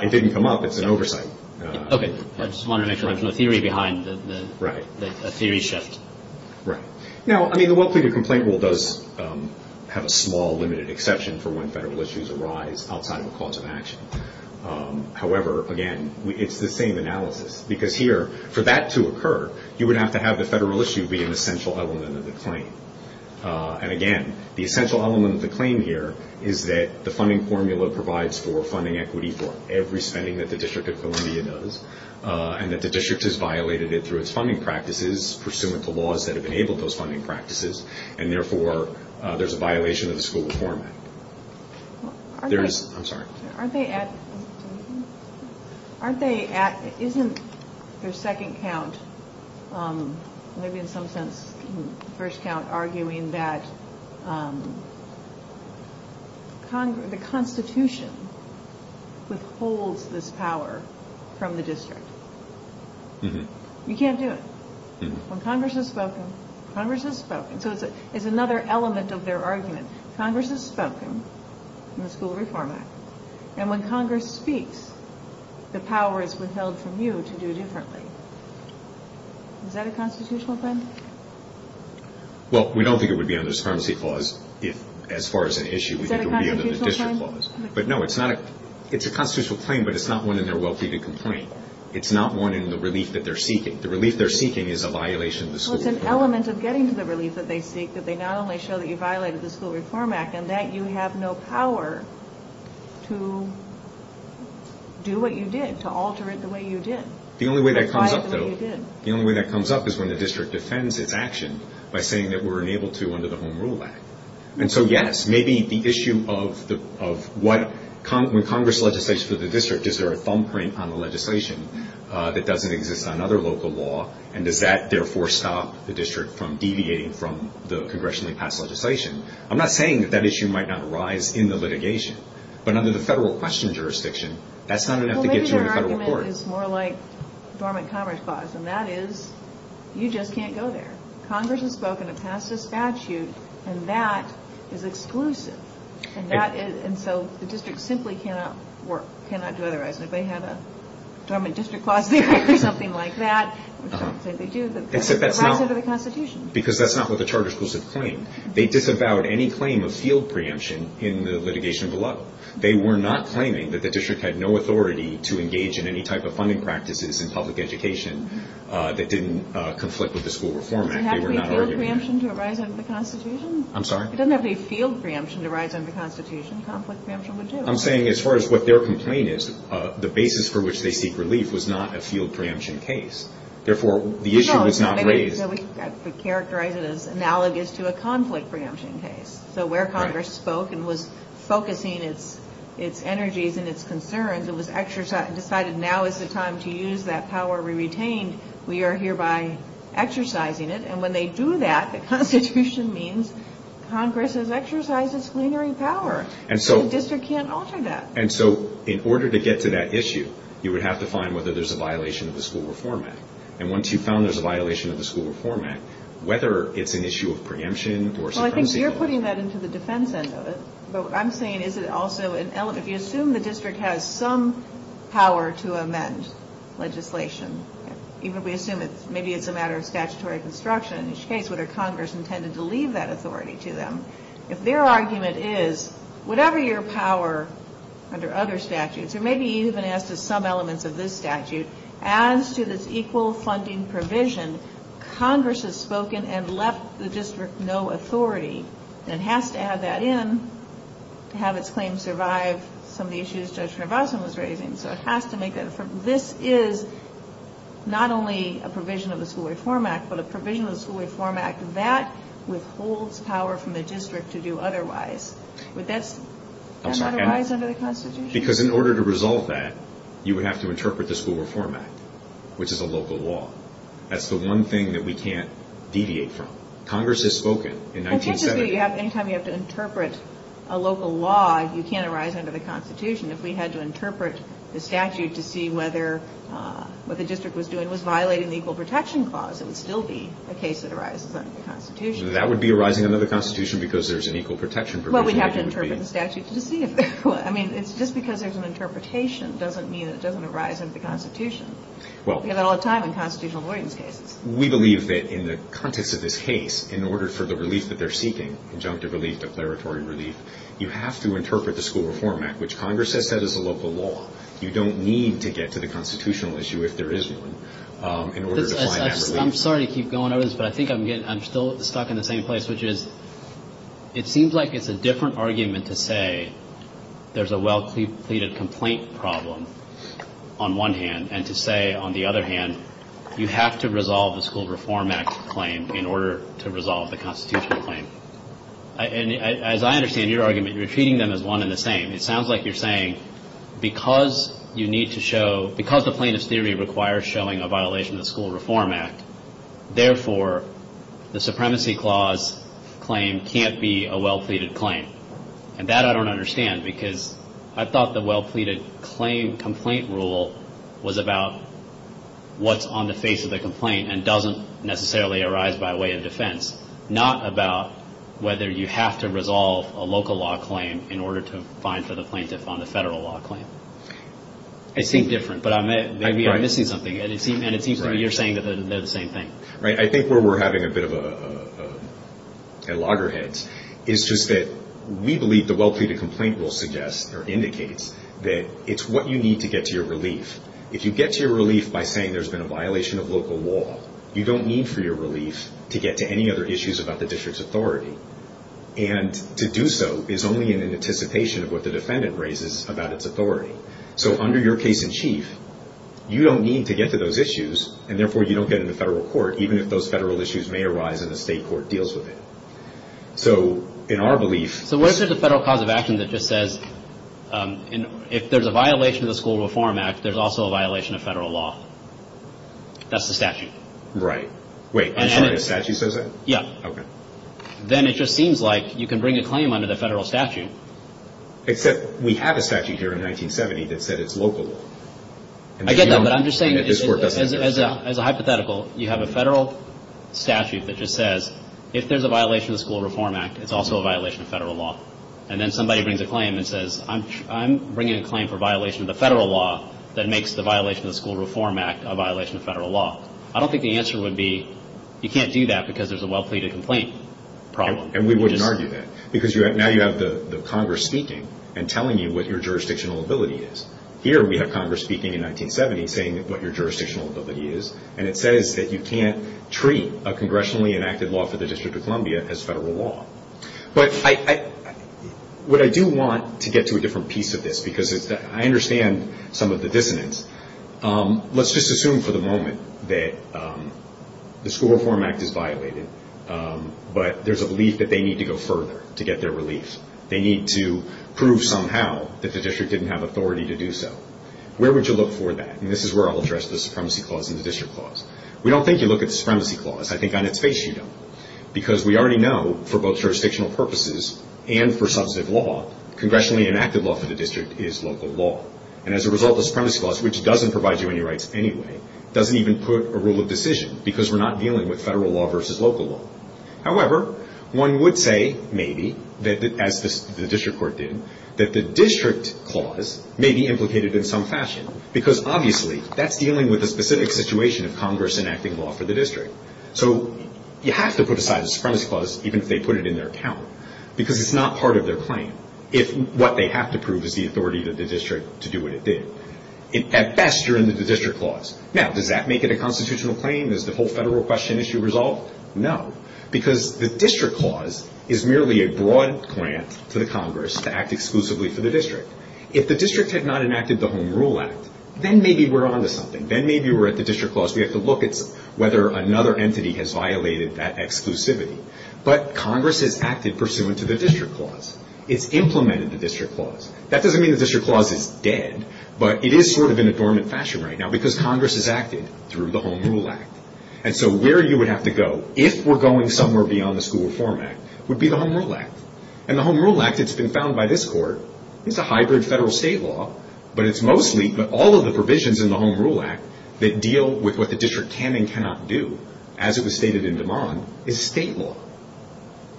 didn't come up. It's an oversight. Okay. I just wanted to make sure there's no theory behind the theory shift. Right. Now, I mean, the well-pleaded complaint rule does have a small limited exception for when federal issues arise outside of a cause of action. However, again, it's the same analysis. Because here, for that to occur, you would have to have the federal issue be an essential element of the claim. And again, the essential element of the claim here is that the funding formula provides for funding equity for every spending that the District of Columbia does. And that the district has violated it through its funding practices, pursuant to laws that have enabled those funding practices. And therefore, there's a violation of the School Reform Act. There's, I'm sorry. Aren't they at, aren't they at, isn't their second count, maybe in some sense, first count, arguing that the Constitution withholds this power from the district? You can't do it. When Congress has spoken, Congress has spoken. So it's another element of their argument. Congress has spoken in the School Reform Act. And when Congress speaks, the power is withheld from you to do differently. Is that a constitutional thing? Well, we don't think it would be under the discriminancy clause if, as far as an issue, we think it would be under the district clause. But no, it's not a, it's a constitutional claim, but it's not one in their wealthy to complain. It's not one in the relief that they're seeking. The relief they're seeking is a violation of the School Reform Act. Well, it's an element of getting to the relief that they seek, that they not only show that you violated the School Reform Act, and that you have no power to do what you did, to alter it the way you did. The only way that comes up, though, the only way that comes up is when the district defends it. Defends its action by saying that we're unable to under the Home Rule Act. And so, yes, maybe the issue of the, of what, when Congress legislates for the district, is there a thumbprint on the legislation that doesn't exist on other local law? And does that, therefore, stop the district from deviating from the congressionally passed legislation? I'm not saying that that issue might not arise in the litigation, but under the federal question jurisdiction, that's not enough to get you in federal court. Well, maybe their argument is more like dormant commerce clause, and that is, you just can't go there. Congress has spoken, it passed a statute, and that is exclusive. And that is, and so the district simply cannot work, cannot do otherwise. And if they have a dormant district clause, they have to do something like that, which they do, but that's not under the Constitution. Because that's not what the charter schools have claimed. They disavowed any claim of field preemption in the litigation below. They were not claiming that the district had no authority to engage in any type of funding practices in public education that didn't conflict with the School Reform Act. They were not arguing that. It doesn't have any field preemption to arise under the Constitution? I'm sorry? It doesn't have any field preemption to arise under the Constitution. Conflict preemption would do. I'm saying, as far as what their complaint is, the basis for which they seek relief was not a field preemption case. Therefore, the issue was not raised. No, we characterize it as analogous to a conflict preemption case. So where Congress spoke and was focusing its energies and its concerns, and decided now is the time to use that power we retained, we are hereby exercising it. And when they do that, the Constitution means Congress has exercised its plenary power. And so the district can't alter that. And so in order to get to that issue, you would have to find whether there's a violation of the School Reform Act. And once you've found there's a violation of the School Reform Act, whether it's an issue of preemption or suppression. Well, I think you're putting that into the defense end of it. But what I'm saying is that also if you assume the district has some power to amend legislation, even if we assume maybe it's a matter of statutory construction, in each case, whether Congress intended to leave that authority to them. If their argument is, whatever your power under other statutes, or maybe even as to some elements of this statute, as to this equal funding provision, Congress has spoken and left the district no authority. And it has to add that in to have its claim survive some of the issues Judge Narvasan was raising. So it has to make that effort. This is not only a provision of the School Reform Act, but a provision of the School Reform Act that withholds power from the district to do otherwise. Would that be otherwise under the Constitution? Because in order to resolve that, you would have to interpret the School Reform Act, which is a local law. That's the one thing that we can't deviate from. Congress has spoken. It's interesting that any time you have to interpret a local law, you can't arise under the Constitution. If we had to interpret the statute to see whether what the district was doing was violating the Equal Protection Clause, it would still be a case that arises under the Constitution. That would be arising under the Constitution because there's an equal protection provision. Well, we'd have to interpret the statute to see if it would. I mean, it's just because there's an interpretation doesn't mean it doesn't arise under the Constitution. We get that all the time in constitutional avoidance cases. We believe that in the context of this case, in order for the relief that they're seeking, conjunctive relief, declaratory relief, you have to interpret the School Reform Act, which Congress has said is a local law. You don't need to get to the constitutional issue if there is one in order to find that relief. I'm sorry to keep going over this, but I think I'm still stuck in the same place, which is it seems like it's a different argument to say there's a well-pleaded complaint problem on one hand, and to say, on the other hand, you have to resolve the School Reform Act claim in order to resolve the constitutional claim. And as I understand your argument, you're treating them as one and the same. It sounds like you're saying because you need to show, because the plaintiff's theory requires showing a violation of the School Reform Act, therefore, the Supremacy Clause claim can't be a well-pleaded claim. And that I don't understand because I thought the well-pleaded complaint rule was about what's on the face of the complaint and doesn't necessarily arise by way of defense, not about whether you have to resolve a local law claim in order to find for the plaintiff on the federal law claim. It seemed different, but I may be missing something, and it seems to me you're saying that they're the same thing. Right. I think where we're having a bit of a loggerhead is just that we believe the well-pleaded complaint rule suggests or indicates that it's what you need to get to your relief. If you get to your relief by saying there's been a violation of local law, you don't need for your relief to get to any other issues about the district's authority. And to do so is only in anticipation of what the defendant raises about its authority. So under your case in chief, you don't need to get to those issues, and therefore, you don't get into federal court, even if those federal issues may arise and the state court deals with it. So in our belief... So what if there's a federal cause of action that just says, if there's a violation of the School Reform Act, there's also a violation of federal law? That's the statute. Right. Wait, I'm sorry, the statute says that? Yeah. Okay. Then it just seems like you can bring a claim under the federal statute. Except we have a statute here in 1970 that said it's local law. I get that, but I'm just saying as a hypothetical, you have a federal statute that just says, if there's a violation of the School Reform Act, it's also a violation of federal law. And then somebody brings a claim and says, I'm bringing a claim for violation of the federal law that makes the violation of the School Reform Act a violation of federal law. I don't think the answer would be, you can't do that because there's a well-pleaded complaint problem. And we wouldn't argue that. Because now you have the Congress speaking and telling you what your jurisdictional ability is. Here we have Congress speaking in 1970 saying what your jurisdictional ability is, and it says that you can't treat a congressionally enacted law for the District of Columbia as federal law. But what I do want to get to a different piece of this, because I understand some of the dissonance, let's just assume for the moment that the School Reform Act is violated, but there's a belief that they need to go further to get their relief. They need to prove somehow that the district didn't have authority to do so. Where would you look for that? And this is where I'll address the supremacy clause and the district clause. We don't think you look at the supremacy clause. I think on its face you don't. Because we already know for both jurisdictional purposes and for substantive law, congressionally enacted law for the district is local law. And as a result, the supremacy clause, which doesn't provide you any rights anyway, doesn't even put a rule of decision because we're not dealing with federal law versus local law. However, one would say, maybe, as the district court did, that the district clause may be implicated in some fashion. Because, obviously, that's dealing with a specific situation of Congress enacting law for the district. So you have to put aside the supremacy clause, even if they put it in their account, because it's not part of their claim, if what they have to prove is the authority of the district to do what it did. At best, you're in the district clause. Now, does that make it a constitutional claim? Is the whole federal question issue resolved? No. Because the district clause is merely a broad grant to the Congress to act exclusively for the district. If the district had not enacted the Home Rule Act, then maybe we're on to something. Then maybe we're at the district clause. We have to look at whether another entity has violated that exclusivity. But Congress has acted pursuant to the district clause. It's implemented the district clause. That doesn't mean the district clause is dead, but it is sort of in a dormant fashion right now because Congress has acted through the Home Rule Act. And so where you would have to go, if we're going somewhere beyond the School Reform Act, would be the Home Rule Act. And the Home Rule Act, it's been found by this court, is a hybrid federal-state law, but it's mostly all of the provisions in the Home Rule Act that deal with what the district can and cannot do, as it was stated in DeMond, is state law.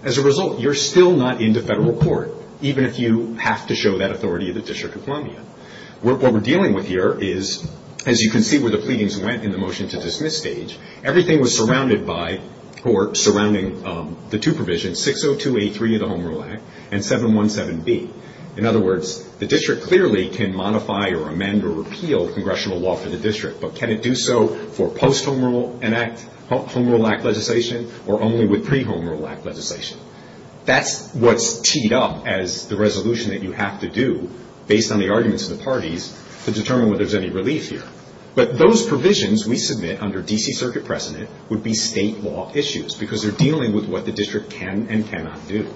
As a result, you're still not into federal court, even if you have to show that authority of the District of Columbia. What we're dealing with here is, as you can see where the pleadings went in the motion to dismiss stage, everything was surrounded by, or surrounding the two provisions, 602A3 of the Home Rule Act and 717B. In other words, the district clearly can modify or amend or repeal congressional law for the district, but can it do so for post-Home Rule Act legislation or only with pre-Home Rule Act legislation? That's what's teed up as the resolution that you have to do, based on the arguments of the parties, to determine whether there's any relief here. But those provisions we submit under D.C. Circuit precedent would be state law issues because they're dealing with what the district can and cannot do.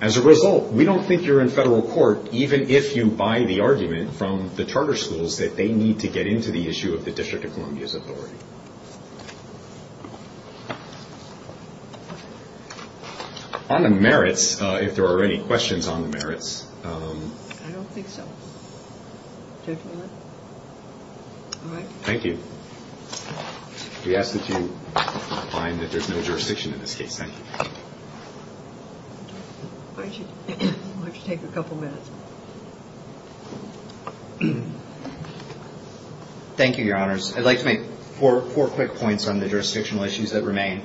As a result, we don't think you're in federal court, even if you buy the argument from the charter schools that they need to get into the issue of the District of Columbia's authority. On the merits, if there are any questions on the merits... I don't think so. Do you have any more? All right. Thank you. We ask that you find that there's no jurisdiction in this case. Thank you. Why don't you take a couple minutes? Thank you, Your Honors. I'd like to make four quick points on the jurisdictional issues that remain.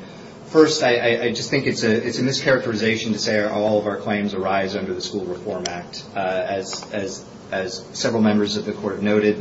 First, I just think it's a mischaracterization to say all of our claims arise under the School Reform Act. As several members of the Court noted,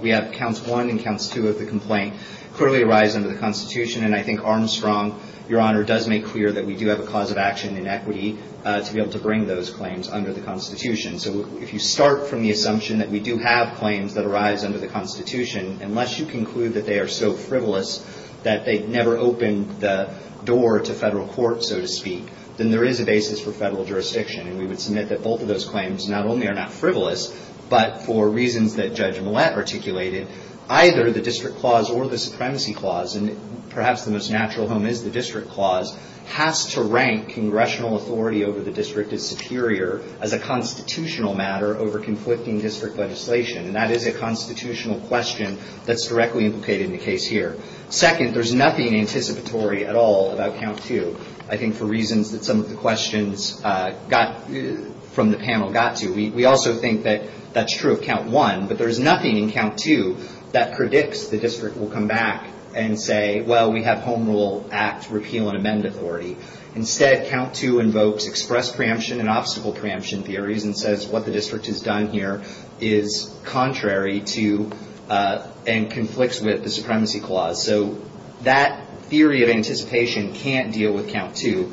we have Counts 1 and Counts 2 of the complaint clearly arise under the Constitution. And I think Armstrong, Your Honor, does make clear that we do have a cause of action in equity to be able to bring those claims under the Constitution. So if you start from the assumption that we do have claims that arise under the Constitution, unless you conclude that they are so frivolous that they never opened the door to federal court, so to speak, then there is a basis for federal jurisdiction. And we would submit that both of those claims not only are not frivolous, but for reasons that Judge Millett articulated, either the District Clause or the Supremacy Clause, and perhaps the most natural home is the District Clause, has to rank congressional authority over the district as superior as a constitutional matter over conflicting district legislation. And that is a constitutional question that's directly implicated in the case here. Second, there's nothing anticipatory at all about Count 2. I think for reasons that some of the questions from the panel got to. We also think that that's true of Count 1, but there's nothing in Count 2 that predicts the district will come back and say, well, we have Home Rule Act repeal and amend authority. Instead, Count 2 invokes express preemption and obstacle preemption theories and says what the district has done here is contrary to and conflicts with the Supremacy Clause. So that theory of anticipation can't deal with Count 2.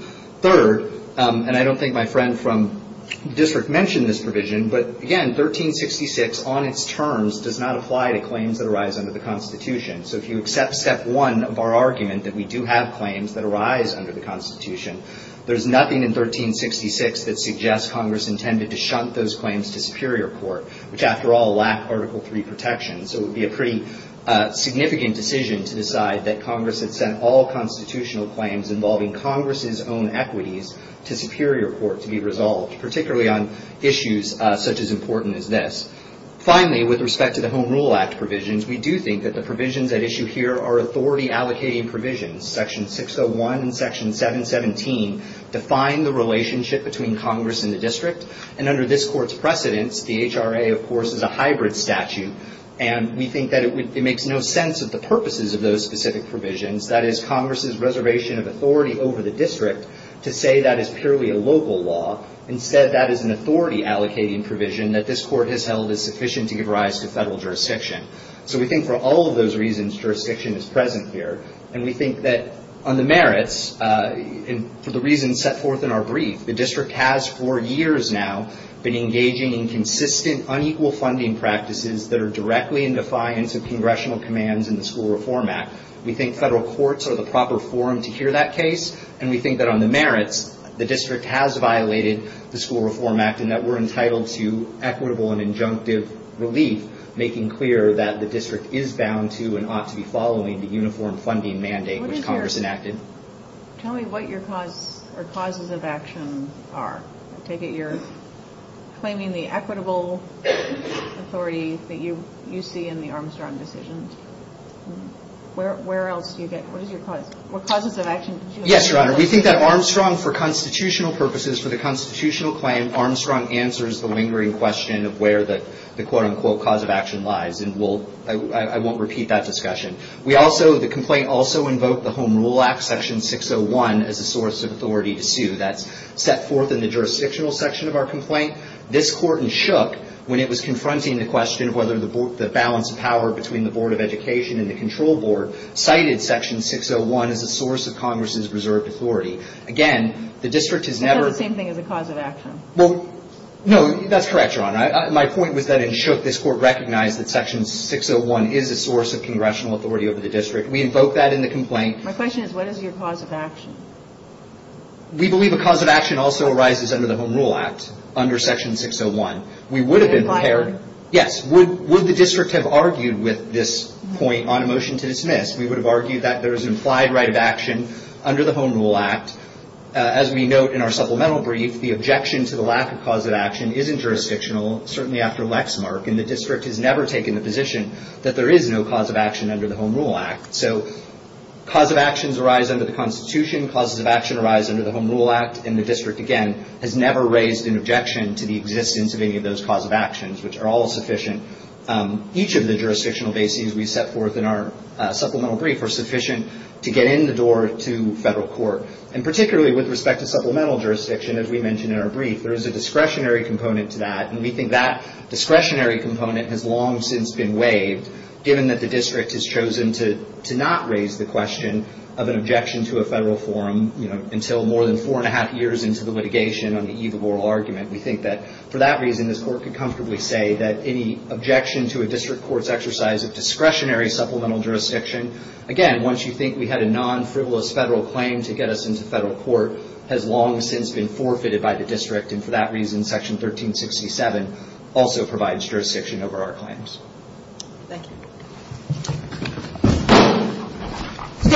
Third, and I don't think my friend from the district mentioned this provision, but again, 1366 on its terms does not apply to claims that arise under the Constitution. So if you accept Step 1 of our argument that we do have claims that arise under the Constitution, there's nothing in 1366 that suggests Congress intended to shunt those claims to superior court, which, after all, lack Article III protection. So it would be a pretty significant decision to decide involving Congress's own equities to superior court to be resolved, particularly on issues such as important as this. Finally, with respect to the Home Rule Act provisions, we do think that the provisions at issue here are authority-allocating provisions. Section 601 and Section 717 define the relationship between Congress and the district, and under this Court's precedence, the HRA, of course, is a hybrid statute, and we think that it makes no sense that is, Congress's reservation of authority over the district, to say that is purely a local law. Instead, that is an authority-allocating provision that this Court has held is sufficient to give rise to federal jurisdiction. So we think for all of those reasons, jurisdiction is present here, and we think that on the merits, and for the reasons set forth in our brief, the district has, for years now, been engaging in consistent, unequal funding practices that are directly in defiance of congressional commands in the School Reform Act. We think federal courts are the proper forum to hear that case, and we think that on the merits, the district has violated the School Reform Act, and that we're entitled to equitable and injunctive relief, making clear that the district is bound to and ought to be following the uniform funding mandate which Congress enacted. Tell me what your causes of action are. I take it you're claiming the equitable authority that you see in the Armstrong decision. Where else do you get... Yes, Your Honor. We think that Armstrong, for constitutional purposes, for the constitutional claim, Armstrong answers the lingering question of where the quote-unquote cause of action lies, and I won't repeat that discussion. The complaint also invoked the Home Rule Act, Section 601, as a source of authority to sue. That's set forth in the jurisdictional section of our complaint. This Court in Shook, when it was confronting the question of whether the balance of power between the Board of Education and the Control Board cited Section 601 as a source of Congress's reserved authority. Again, the district has never... That's not the same thing as a cause of action. No, that's correct, Your Honor. My point was that in Shook, this Court recognized that Section 601 is a source of congressional authority over the district. We invoke that in the complaint. My question is, what is your cause of action? We believe a cause of action also arises under the Home Rule Act, under Section 601. We would have been prepared... Yes, would the district have argued with this point on a motion to dismiss? We would have argued that there is an implied right of action under the Home Rule Act. As we note in our supplemental brief, the objection to the lack of cause of action isn't jurisdictional, certainly after Lexmark. And the district has never taken the position that there is no cause of action under the Home Rule Act. Cause of actions arise under the Constitution. Causes of action arise under the Home Rule Act. And the district, again, has never raised an objection to the existence of any of those cause of actions, which are all sufficient. Each of the jurisdictional bases we set forth in our supplemental brief are sufficient to get in the door to federal court. And particularly with respect to supplemental jurisdiction, as we mentioned in our brief, there is a discretionary component to that. And we think that discretionary component has long since been waived, given that the district has chosen to not raise the question of an objection to a federal forum until more than four and a half years into the litigation on the eve of oral argument. We think that, for that reason, this Court could comfortably say that any objection to a district court's exercise of discretionary supplemental jurisdiction, again, once you think we had a non-frivolous federal claim to get us into federal court, has long since been forfeited by the district. And for that reason, Section 1367 also provides jurisdiction over our claims. Thank you.